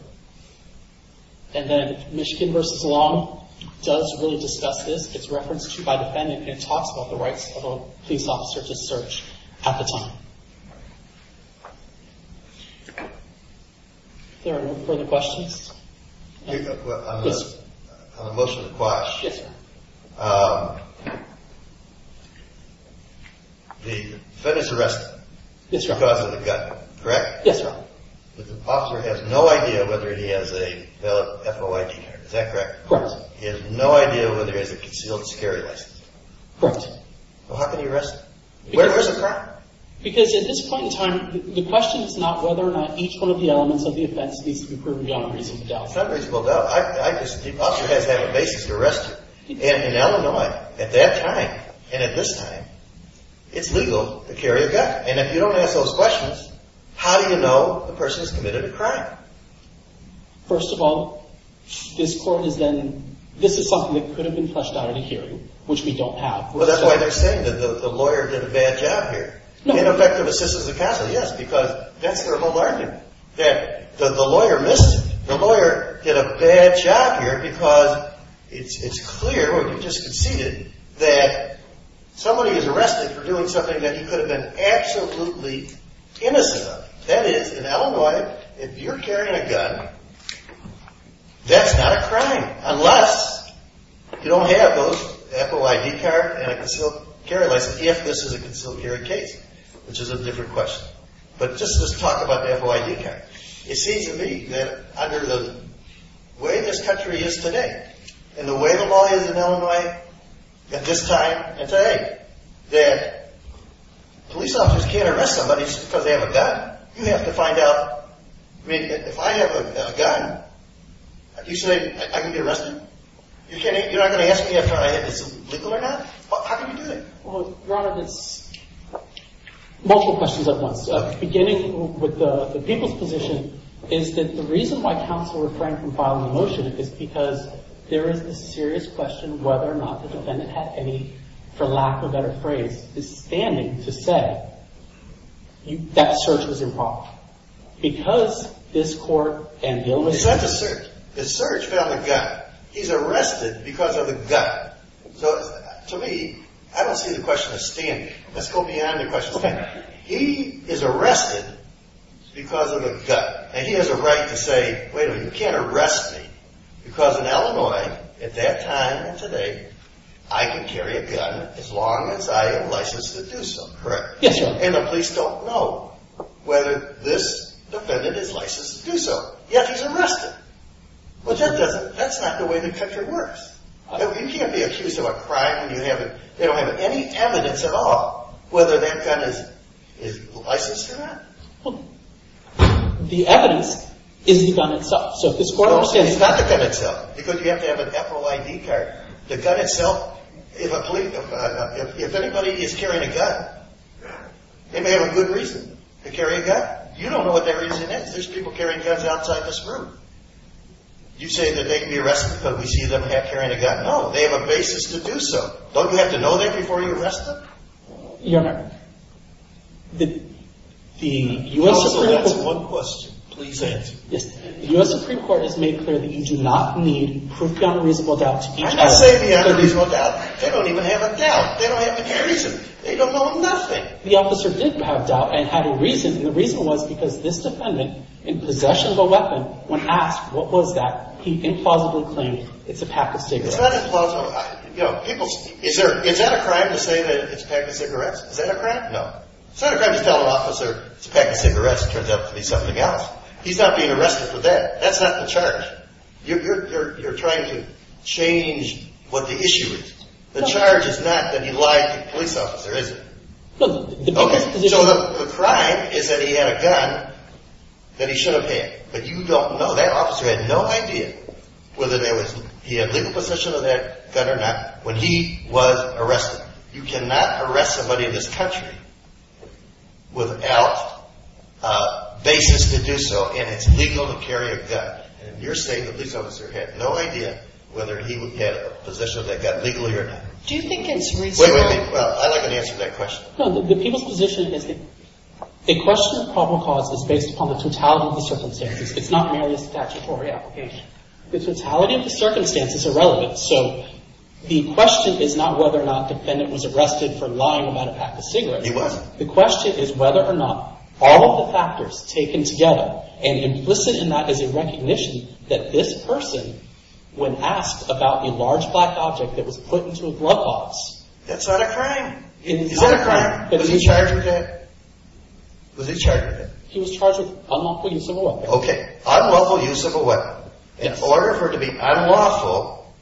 And then Michigan v. Long does really discuss this. It's referenced by defendant and talks about the rights of police officers to search at the time. Are there any further questions? I'm going to put a motion to quash. The defendant's arrested because of the gun, correct? Yes, sir. The officer has no idea whether he has a valid FOI t-shirt, is that correct? Correct. He has no idea whether he has a concealed security license? Correct. Well, how can he arrest him? Because at this point in time, the question is not whether or not each one of the elements of the offense needs to be proven without reasonable doubt. Without reasonable doubt. The officer has to have a basis to arrest him. And in Illinois, at that time and at this time, it's legal to carry a gun. And if you don't ask those questions, how do you know the person's committed a crime? First of all, this is something that could have been questioned by the hearing, which we don't have. Well, that's why you're saying that the lawyer did a bad job here. Ineffective assistance of counsel, yes, because that's their whole argument. That the lawyer missed it. The lawyer did a bad job here because it's clear, or you just conceded, that somebody is arrested for doing something that he could have been absolutely innocent of. That is, in Illinois, if you're carrying a gun, that's not a crime, unless you don't have those FOI t-shirt and a concealed security license, if this is a concealed security case, which is a different question. But just this talk about the FOI t-shirt. It seems to me that under the way this country is today, and the way the law is in Illinois at this time and today, that police officers can't arrest somebody just because they have a gun. You have to find out, I mean, if I have a gun, do you say I can be arrested? You're not going to ask me if I have this legal or not? How can you do that? Well, one of the multiple questions I've gotten, beginning with the people's position, is that the reason why counsel refrained from filing a motion is because there is a serious question whether or not the defendant has any, for lack of a better phrase, the standing to say that search was involved. Because this court and Illinois… The search fell on the guy. He's arrested because of a gun. To me, I don't see the question as standing. Let's go beyond the question of standing. He is arrested because of a gun, and he has a right to say, wait a minute, you can't arrest me because in Illinois at that time and today, I can carry a gun as long as I am licensed to do so, correct? Yes, Your Honor. And the police don't know whether this defendant is licensed to do so. Yet he's arrested. Well, that's not the way the country works. You can't be accused of a crime. They don't have any evidence at all whether their gun is licensed or not. The evidence is the gun itself. It's not the gun itself, because you have to have an FOID card. The gun itself, if anybody is carrying a gun, they may have a good reason to carry a gun. You don't know what their reason is. There's people carrying guns outside this room. You say that they can be arrested because we see them carrying a gun. No, they have a basis to do so. Don't we have to know that before you arrest them? Your Honor, the U.S. Supreme Court has made clear that you do not need proof beyond a reasonable doubt to be arrested. I'm not saying they have a reasonable doubt. They don't even have a doubt. They don't have a reason. They don't know nothing. The officer did have a doubt and had a reason, and the reason was because this defendant, in possession of a weapon, when asked what was that, he implausibly claimed it's a pack of cigarettes. It's not implausible. Is that a crime to say that it's a technical arrest? Is that a crime? No. It's not a crime to tell an officer it's a technical arrest and it turns out to be something else. He's not being arrested for that. That's not the charge. You're trying to change what the issue is. The charge is not that he lied to the police officer, is it? The crime is that he had a gun that he should have had, but you don't know. That officer had no idea whether he had legal possession of that gun or not when he was arrested. You cannot arrest somebody in this country without basis to do so, and it's legal to carry a gun. In your state, the police officer had no idea whether he had possession of that gun legally or not. Do you think it's reasonable? Wait a minute. I'd like an answer to that question. The penal position is that the question of probable cause is based upon the totality of the circumstances. It's not merely a statutory application. The totality of the circumstance is irrelevant, so the question is not whether or not the defendant was arrested for lying about a pack of cigarettes. It wasn't. The question is whether or not all of the factors taken together and implicit in that is a recognition that this person, when asked about a large black object that was put into a glove box... That's not a crime. It's not a crime. Was he charged with it? Was he charged with it? He was charged with unlawful use of a weapon. Okay. Unlawful use of a weapon. In order for it to be unlawful,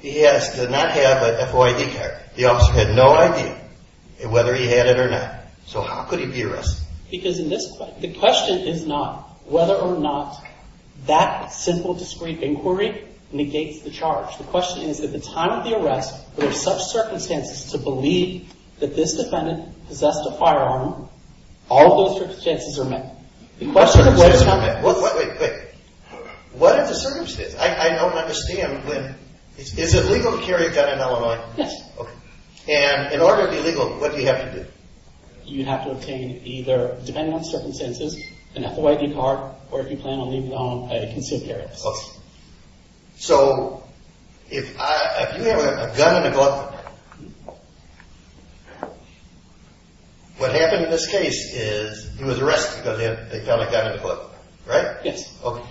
he has to not have a FOID card. The officer had no idea whether he had it or not, so how could he be arrested? Because the question is not whether or not that simple, discreet inquiry negates the charge. The question is that at the time of the arrest, there are such circumstances to believe that this defendant possessed a firearm. All of those circumstances are met. The question is whether or not... Wait, wait, wait. What are the circumstances? I don't understand. Is it legal to carry a gun in Illinois? Yes. Okay. And in order to be legal, what do you have to do? You have to obtain either, depending on the circumstances, an FOID card, or if you plan on leaving the home, a concealed carry. Okay. So, if you have a gun in the glove compartment... What happened in this case is he was arrested because they found a gun in the glove compartment. Right? Yes. Okay.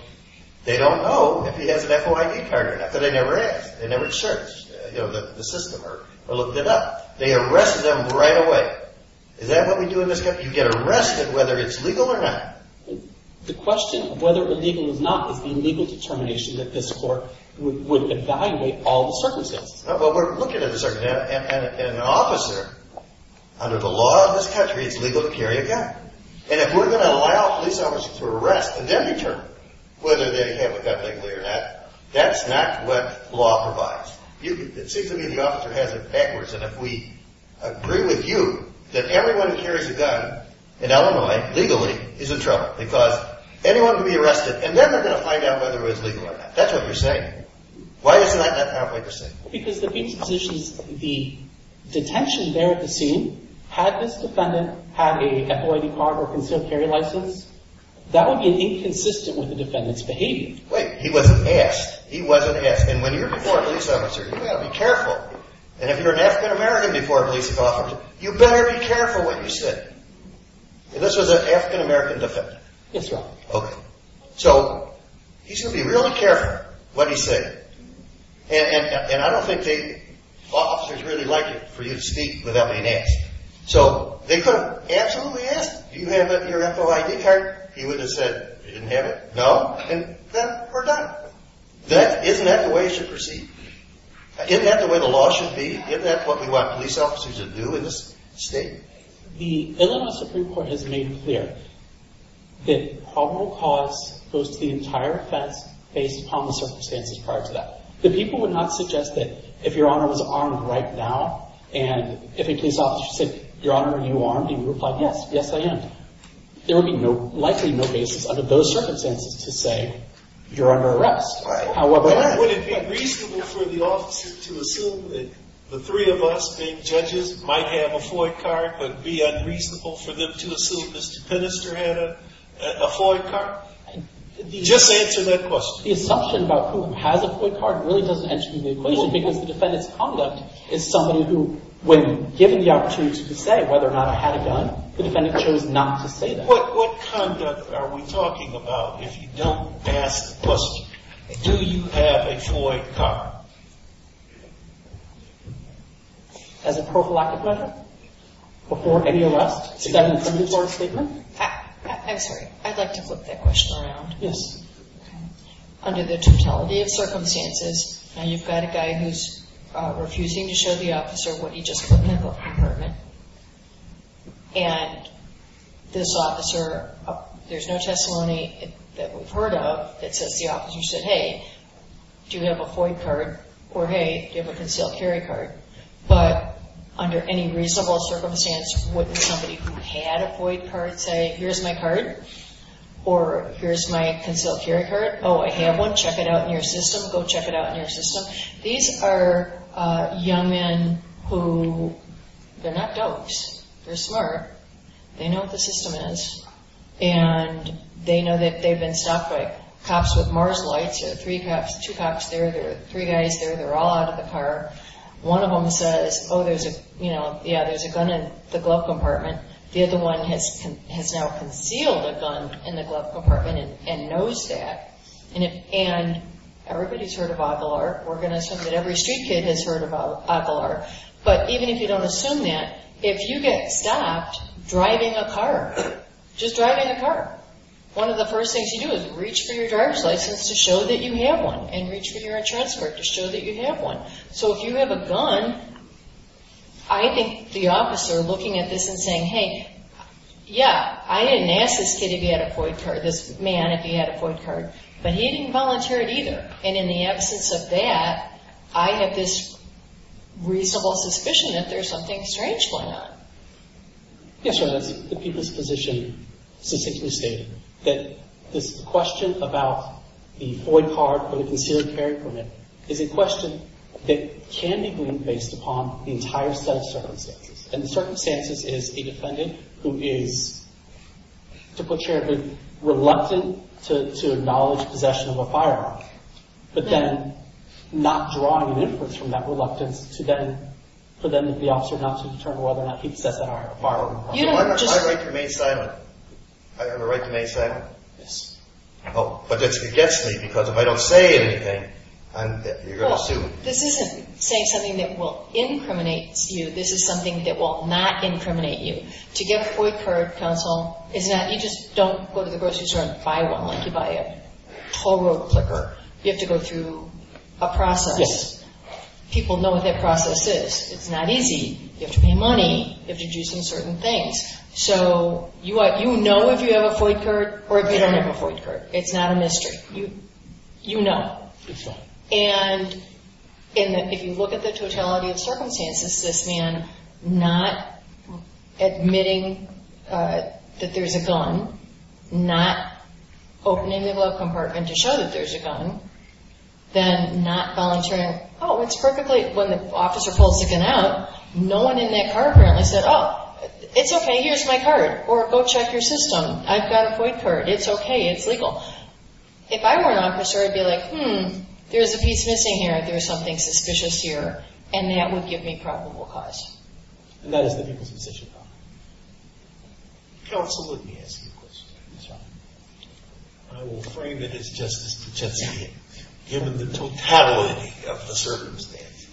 They don't know if he has an FOID card or not, but they never asked. They never searched. You know, the system or looked it up. They arrested him right away. Is that what we do in this country? You get arrested whether it's legal or not. The question is whether or not it would be a legal determination that this court would evaluate all the circumstances. No, but we're looking at a circumstance. An officer, under the law of this country, is legal to carry a gun. And if we're going to allow police officers to arrest a deputy, whether they have a gun in their hand, that's not what the law provides. It seems to me the officer has it backwards. And if we agree with you that everyone who carries a gun, in Illinois, legally, is in trouble. Because anyone can be arrested, and they're not going to find out whether it was legal or not. That's what you're saying. Why doesn't that sound like a safe? Because the detention there at the scene, had this defendant had a FOID card or concealed carry license, that would be inconsistent with the defendant's behavior. Right. He was a guest. He was a guest. And when you're before a police officer, you've got to be careful. And if you're an African American before a police officer, you better be careful what you say. And this was an African American defendant. Yes, Your Honor. Okay. So, he's going to be really careful what he says. And I don't think the officers really like it for you to speak without a mask. So, they could have absolutely asked, do you have your FOID card? He would have said, I didn't have it. No? Then we're done. Isn't that the way it should proceed? Isn't that the way the law should be? Isn't that what we want police officers to do in this state? The Illinois Supreme Court has made it clear that the probable cause goes to the entire offense based upon the circumstances prior to that. The people would not suggest that if Your Honor was armed right now, and if a police officer said, Your Honor, are you armed? And you would reply, yes, yes I am. There would be likely no basis under those circumstances to say, You're under arrest. Right. However, Would it be reasonable for the officer to assume that the three of us, being judges, might have a FOID card, but it would be unreasonable for them to assume the defender had a FOID card? Just answer that question. The assumption about who has a FOID card really doesn't mention the equation, because the defendant's conduct is somebody who, when given the opportunity to say whether or not I had a gun, the defendant chose not to say that. What conduct are we talking about if you don't ask the question, do you have a FOID card? As a probable accuser? Before any arrest? Is that an intended charge statement? I'm sorry. I'd like to flip that question around. Yes. Under the totality of circumstances, and you've got a guy who's refusing to show the officer what he just put in his apartment, and this officer, there's no testimony that we've heard of that says the officer said, Hey, do you have a FOID card? Or, Hey, give a concealed carry card. But, under any reasonable circumstance, wouldn't somebody who had a FOID card say, Here's my card? Or, Here's my concealed carry card? Oh, I have one. Check it out in your system. Go check it out in your system. These are young men who, they're not dopes. They're smart. They know what the system is. And they know that they've been stopped by cops with marginalized, three cops, two cops there, three guys there, they're all out of the car. One of them says, Oh, there's a, you know, yeah, there's a gun in the glove compartment. The other one has now concealed a gun in the glove compartment and knows that. And everybody's heard of Opelar. We're going to assume that every street kid has heard of Opelar. But even if you don't assume that, if you get stopped driving a car, just driving a car, one of the first things you do is reach for your driver's license to show that you have one. And reach for your insurance card to show that you have one. So if you have a gun, I think the officer looking at this and saying, Hey, yeah, I didn't ask this kid if he had a FOIA card, this man, if he had a FOIA card, but he didn't volunteer it either. And in the absence of that, I have this reasonable suspicion that there's something strange going on. Yes, Your Honor. The people's position states that the question about the FOIA card, the concealed carry permit, is a question that can be based upon the entire set of circumstances. And the circumstances is a defendant who is, to put it sharply, reluctant to acknowledge possession of a firearm. But then, not drawing an inference from that reluctance to then the officer not to determine whether or not he's set that up. I have a right to remain silent. I have a right to remain silent. Yes. But this gets me, because if I don't say anything, you're going to sue me. This isn't saying something that will incriminate you. This is something that will not incriminate you. To get a FOIA card, counsel, you just don't go to the grocery store and buy one like you buy a toll road clipper. You have to go through a process. People know what that process is. It's not easy. You have to pay money. You have to do some certain things. So, you know if you have a FOIA card or if you don't have a FOIA card. It's not a mystery. You know. Exactly. And if you look at the totality of circumstances, this man not admitting that there's a gun, not opening the glove compartment to show that there's a gun, then not volunteering. Oh, it's perfectly. When the officer pulled the gun out, no one in that car apparently said, oh, it's okay. Here's my card. Or go check your system. I've got a FOIA card. It's okay. It's legal. If I were an officer, I'd be like, hmm, there's a piece missing here. There's something suspicious here. And that would give me probable cause. And that is an imposition of power. Counsel, let me ask you a question. Sure. I will claim that it's justice to testify here. Given the totality of the circumstances.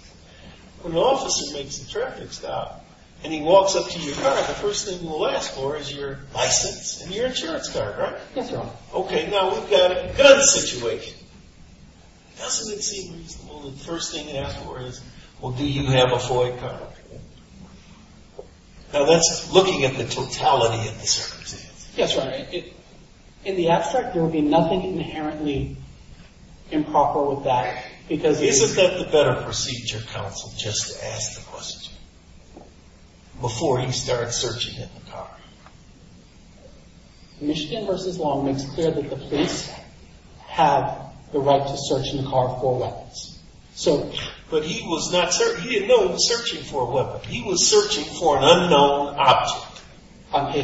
When the officer makes a traffic stop and he walks up to your car, the first thing you'll ask for is your license and your insurance card, right? That's right. Okay. Now, we've got a better situation. Counsel, let's see. Well, the first thing you ask for is, well, do you have a FOIA card? Now, that's looking at the totality of the circumstances. That's right. In the abstract, there would be nothing inherently improper with that. Because isn't that the better procedure, counsel, just to ask the question before you start searching in the car? Michigan v. Long makes it clear that the police have the right to search in the car for weapons. But he was not searching. He didn't know he was searching for a weapon. He was searching for an unknown object.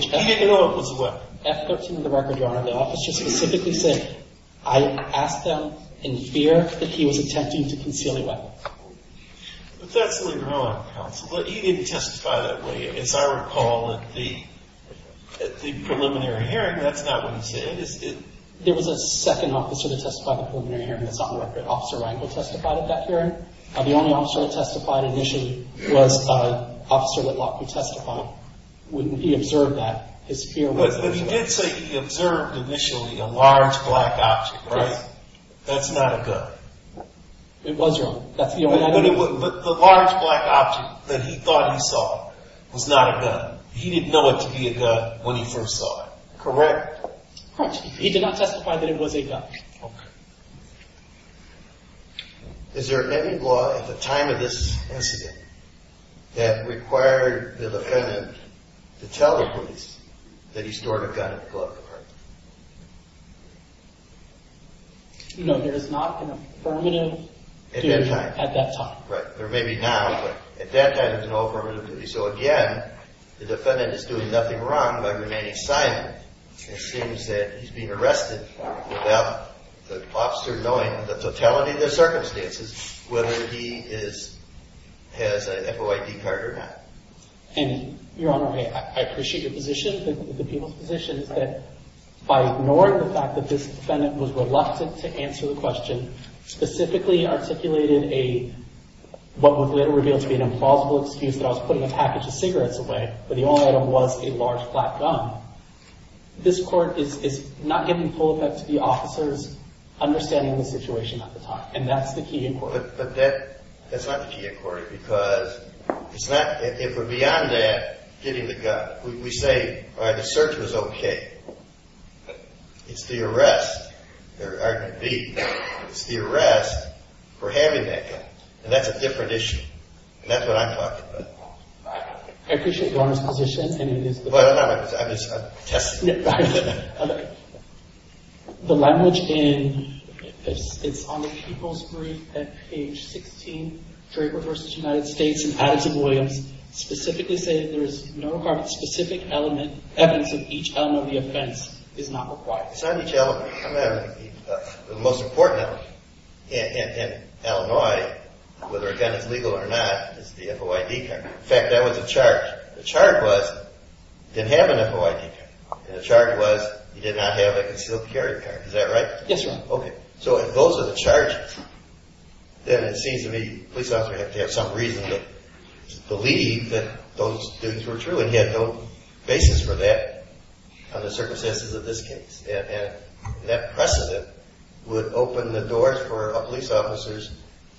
He didn't know it was a weapon. That's what's in the record, Your Honor. The officer specifically said, I asked them in fear that he was attempting to conceal a weapon. That's actually wrong, counsel. But he didn't testify that way. As I recall, at the preliminary hearing, that's not what he said. There was a second officer that testified at the preliminary hearing. It's not in the record. Officer Randall testified at that hearing. And the only officer that testified initially was an officer that would not be testifying. When he observed that, his fear was- But he did say he observed initially a large black object, right? That's not a gun. It was, Your Honor. The large black object that he thought he saw was not a gun. He didn't know it could be a gun when he first saw it. Correct. He did not testify that it was a gun. Okay. Is there any law at the time of this incident that required the defendant to tell the police that he stored a gun in the glove compartment? No, there is not an affirmative duty at that time. At that time. Right. Or maybe now. At that time, there's no affirmative duty. So, again, the defendant is doing nothing wrong by remaining silent. It seems that he's being arrested without the officer knowing the totality of the circumstances, whether he has a FOID card or not. And, Your Honor, I appreciate your position, the defendant's position, that by ignoring the fact that this defendant was reluctant to answer the question, specifically articulated a, what would later reveal to be an infallible excuse that I was putting a package of cigarettes away, but the only item was a large black gun, this court is not giving full effect to the officer's understanding of the situation at the time. And that's the key inquiry. Because if we're beyond that, getting the gun, we say, all right, the search was okay. But it's the arrest, there are going to be, it's the arrest for having that gun. And that's a different issue. And that's what I'm talking about. I appreciate Your Honor's position. Well, I'm just testing you. Okay. The language in, it's on the people's brief at page 16, Fairgrave v. United States in Attica, Williams, specifically stated there's no heart-specific element, everything, each element of the offense is not required. The most important element in Illinois, whether a gun is legal or not, is the FOID card. In fact, that was the chart. The chart was, you didn't have an FOID card. And the chart was, you did not have a concealed carry card. Is that right? Yes, Your Honor. Okay. So if those are the charts, then it seems to me the police officer had to have some reason to believe that those things were true. And he had no basis for that on the circumstances of this case. And that precedent would open the doors for police officers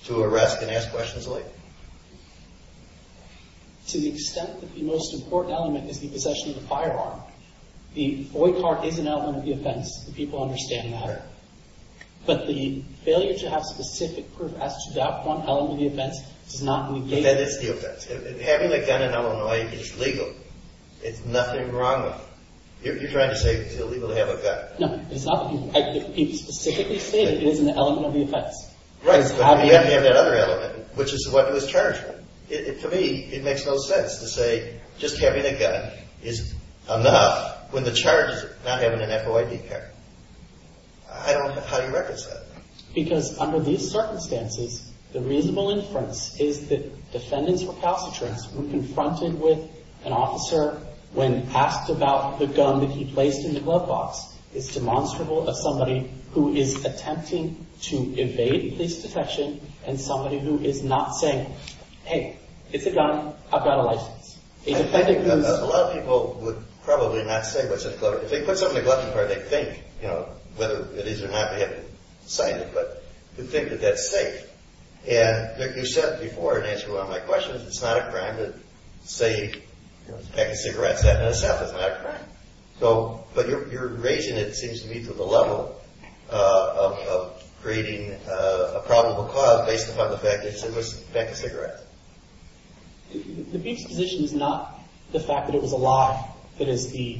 to arrest and ask questions later. To the extent that the most important element could be possession of a firearm, the FOID card is an element of the offense. The people understand that. But the failure to have specific proof as to that one element of the offense does not move the case. That is the offense. Having a gun in Illinois is legal. There's nothing wrong with it. You're trying to say it's illegal to have a gun. No, it's not that people specifically stated it is an element of the offense. Right. So you have to have that other element, which is what it was charged with. To me, it makes no sense to say just having a gun is enough when the charge is not having an FOID card. I don't think that's how you represent it. Because under these circumstances, the reasonable inference is that the defendant's repository when confronted with an officer, when asked about the gun that he placed in the glove box, it's demonstrable that somebody who is attempting to evade his detection and somebody who is not saying, hey, it's a gun. I've got a license. A lot of people would probably not say what's in the glove box. They put something in the glove box where they think, you know, whether it is or not, they have to say it, but they think that that's safe. And they can say it before and answer, well, my question is it's not a crime to say, you know, take a cigarette and say it's not a crime. But your reason, it seems to me, for the level of creating a probable cause based upon the fact that it was a fake cigarette. The key position is not the fact that it was a lie that is the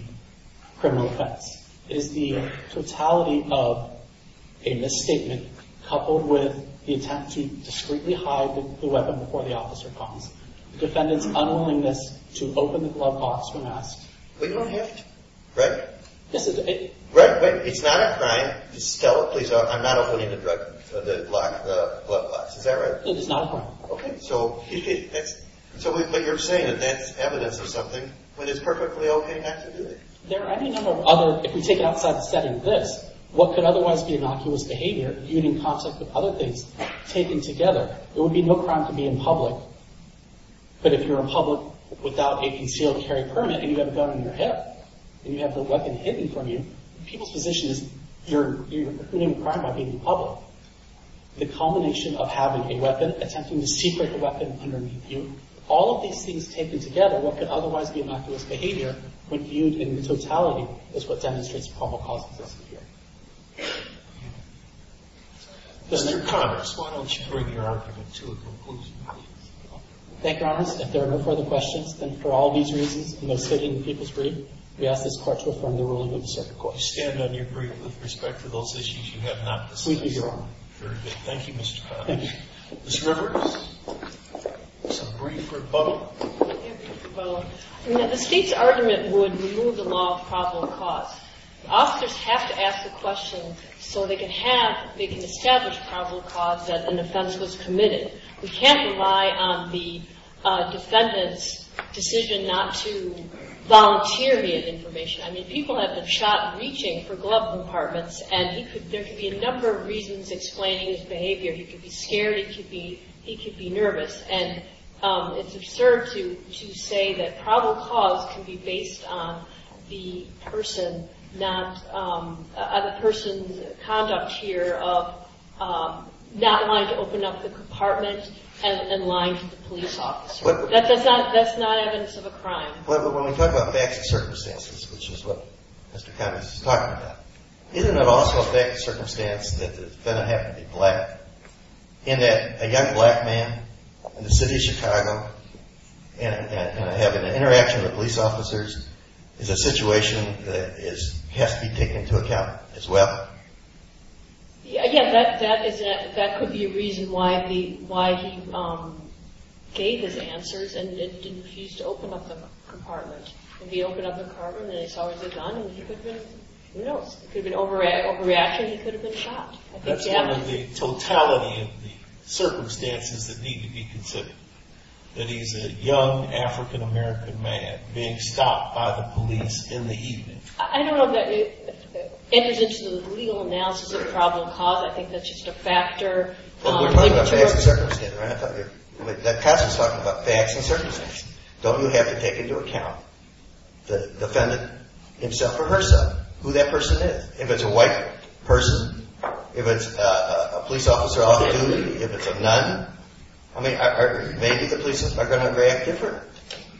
criminal offense. It is the totality of a misstatement coupled with the attempt to discreetly hide the weapon before the officer comes. The defendant's unwillingness to open the glove box when asked. But you don't have to, correct? Yes. Correct. It's not a crime. Mrs. Kellogg, please, I'm not opening the glove box. Is that right? No, it's not a crime. Okay. So you're saying that that's evidence of something when it's perfectly okay not to do it. There are any number of other, if you take it outside the setting of this, what could otherwise be an optimist behavior, being in contact with other things taken together? There would be no crime to be in public. But if you're in public without a concealed carry permit, and you've got a gun in your head, and you have the weapon hidden from you, the people's position is you're committing a crime by being in public. The combination of having a weapon, attempting to secret the weapon underneath you, all of these things taken together, what could otherwise be an optimist behavior, when used in totality, is what demonstrates a probable cause of death here. Mr. Connors, why don't you bring your argument to a conclusion? Thank you, Your Honor. If there are no further questions, then for all these reasons, and those taking the people's brief, we ask this question from the ruling of the circuit court. We stand on your brief with respect to those issues you have not concluded, Your Honor. Very good. Thank you, Mr. Connors. Thank you. Ms. Rivers, a brief rebuttal. Thank you, Mr. Bowen. I mean, the key argument would remove the law of probable cause. Officers have to ask the question so they can establish probable cause that an offense was committed. We can't rely on the defendant's decision not to volunteer his information. I mean, people have been shot reaching for glove compartments, and there could be a number of reasons to explain his behavior. He could be nervous. And it's absurd to say that probable cause can be based on the person's conduct here of not wanting to open up the compartment and lying to the police officer. That's not evidence of a crime. But when we talk about facts and circumstances, which is what Mr. Connors is talking about, isn't it also a fact and circumstance that the defendant happened to be black, and that a young black man in the city of Chicago and having an interaction with police officers is a situation that has to be taken into account as well? Again, that could be a reason why he gave his answers and didn't refuse to open up the compartment. If he opened up the compartment and they saw what was on him, he could have been, you know, it could have been overreaction, he could have been shot. That's part of the totality of the circumstances that need to be considered, that he's a young African-American man being stopped by the police in the evening. I don't know if that is evidence of a legal analysis of probable cause. I think that's just a factor. But we're talking about facts and circumstances. That's what you're talking about, facts and circumstances. Don't you have to take into account the defendant himself or herself, who that person is? If it's a white person, if it's a police officer off duty, if it's a nun, I mean, maybe the police are going to react differently.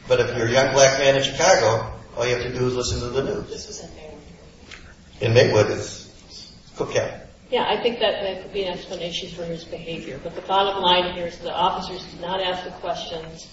But if you're a young black man in Chicago, all you have to do is listen to the news. Listen to the news. And make witnesses. Okay. Yeah, I think that could be an explanation for his behavior. But the bottom line here is the officers did not ask the questions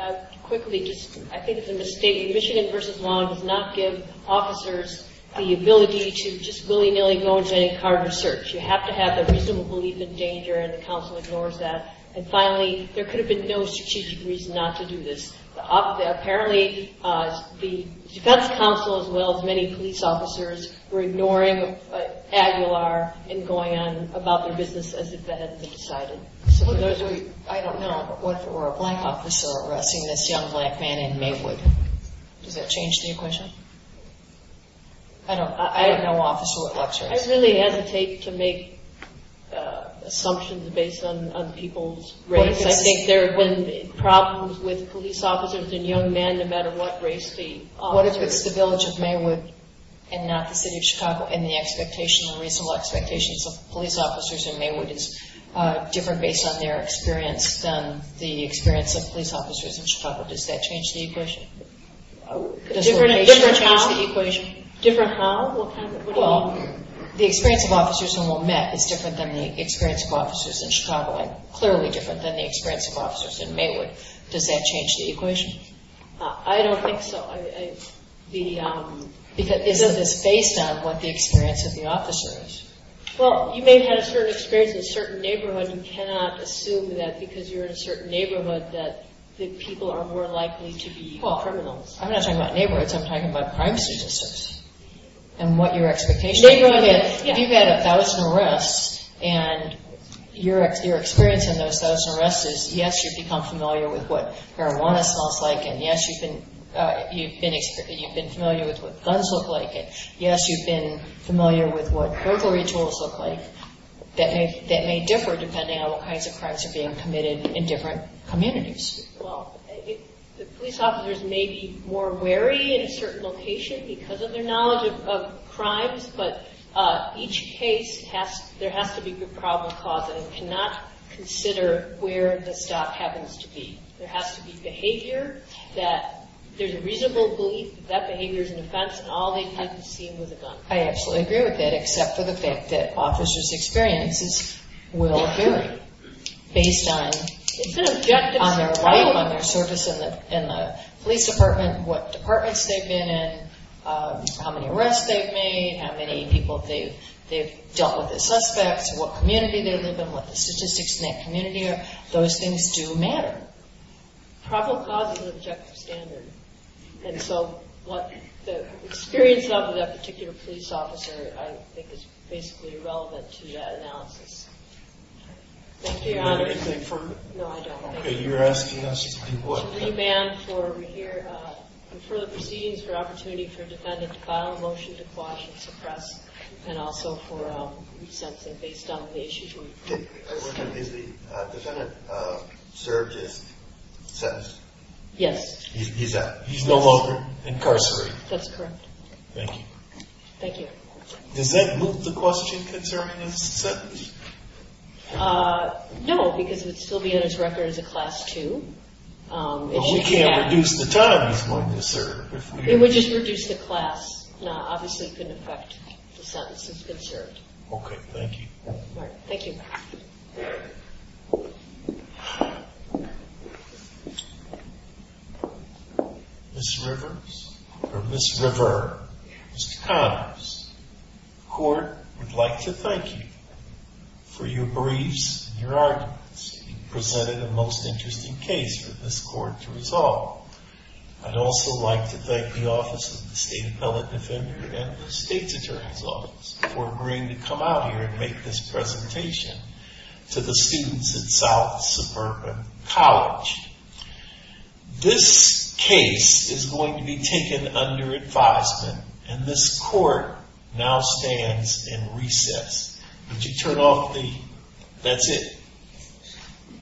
as quickly. I think it's a mistake. Michigan v. Long did not give officers the ability to just willy-nilly go into any car and search. You have to have a reasonable belief in danger, and the counsel ignores that. And finally, there could have been no strategic reason not to do this. Apparently, the defense counsel, as well as many police officers, were ignoring Aguilar and going on about their business as if that had been decided. I don't know if there were a white officer arresting this young black man in Maywood. Does that change the equation? I don't know. I have no official information. I really hesitate to make assumptions based on people's race. I think there have been problems with police officers and young men, no matter what race the officer is. What if it was the village of Maywood and not the city of Chicago? And the expectation, the reasonable expectations of police officers in Maywood is different based on their experience than the experience of police officers in Chicago. Does that change the equation? Different how? Well, the experience of officers in Wilmette is different than the experience of officers in Chicago and clearly different than the experience of officers in Maywood. Does that change the equation? I don't think so. Is it just based on what the experience of the officer is? Well, you may have a certain experience in a certain neighborhood. You cannot assume that because you're in a certain neighborhood that people are more likely to be part of them. I'm not talking about neighborhoods. I'm talking about privacy business and what your expectations are. You've had a thousand arrests and your experience in those thousand arrests is yes, you've become familiar with what marijuana smells like, and yes, you've been familiar with what guns look like, and yes, you've been familiar with what burglary tools look like. That may differ depending on what kinds of crimes are being committed in different communities. Well, the police officers may be more wary in a certain location because of their knowledge of crimes, but each case, there has to be a problem causing. You cannot consider where the stop happens to be. There has to be behavior that there's a reasonable belief that that behavior is an offense and all these types of things with a gun. I absolutely agree with that except for the fact that officers' experiences will vary based on their service in the police department, what departments they've been in, how many arrests they've made, how many people they've dealt with as suspects, what community they live in, what the statistics in that community are. Those things do matter. Problem causing is at the standard, and so what the experience of that particular police officer, I think, is basically relevant to that analysis. Do you want me to confirm? No, I don't. You're asking us to do what? Remand for the proceedings for opportunity for defendants to file a motion to quash and suppress and also for resentment based on the issue. Is the defendant served his sentence? Yes. He's no longer incarcerated? That's correct. Thank you. Thank you. Does that move the question concerning his sentence? No, because it would still be on his record as a class 2. Well, he can't reduce the time he's going to serve. It would just reduce the class. Obviously, it couldn't affect the sentence. It's been served. Okay, thank you. Thank you. Ms. Rivers, or Ms. River, Ms. Collins, the court would like to thank you for your briefs and your arguments. You presented a most interesting case for this court to resolve. I'd also like to thank the Office of the State Appellate Defender and the State Attorney's Office for agreeing to come out here and make this presentation to the students at South Suburban College. This case is going to be taken under advisement, and this court now stands in recess. Would you turn off the, that's it.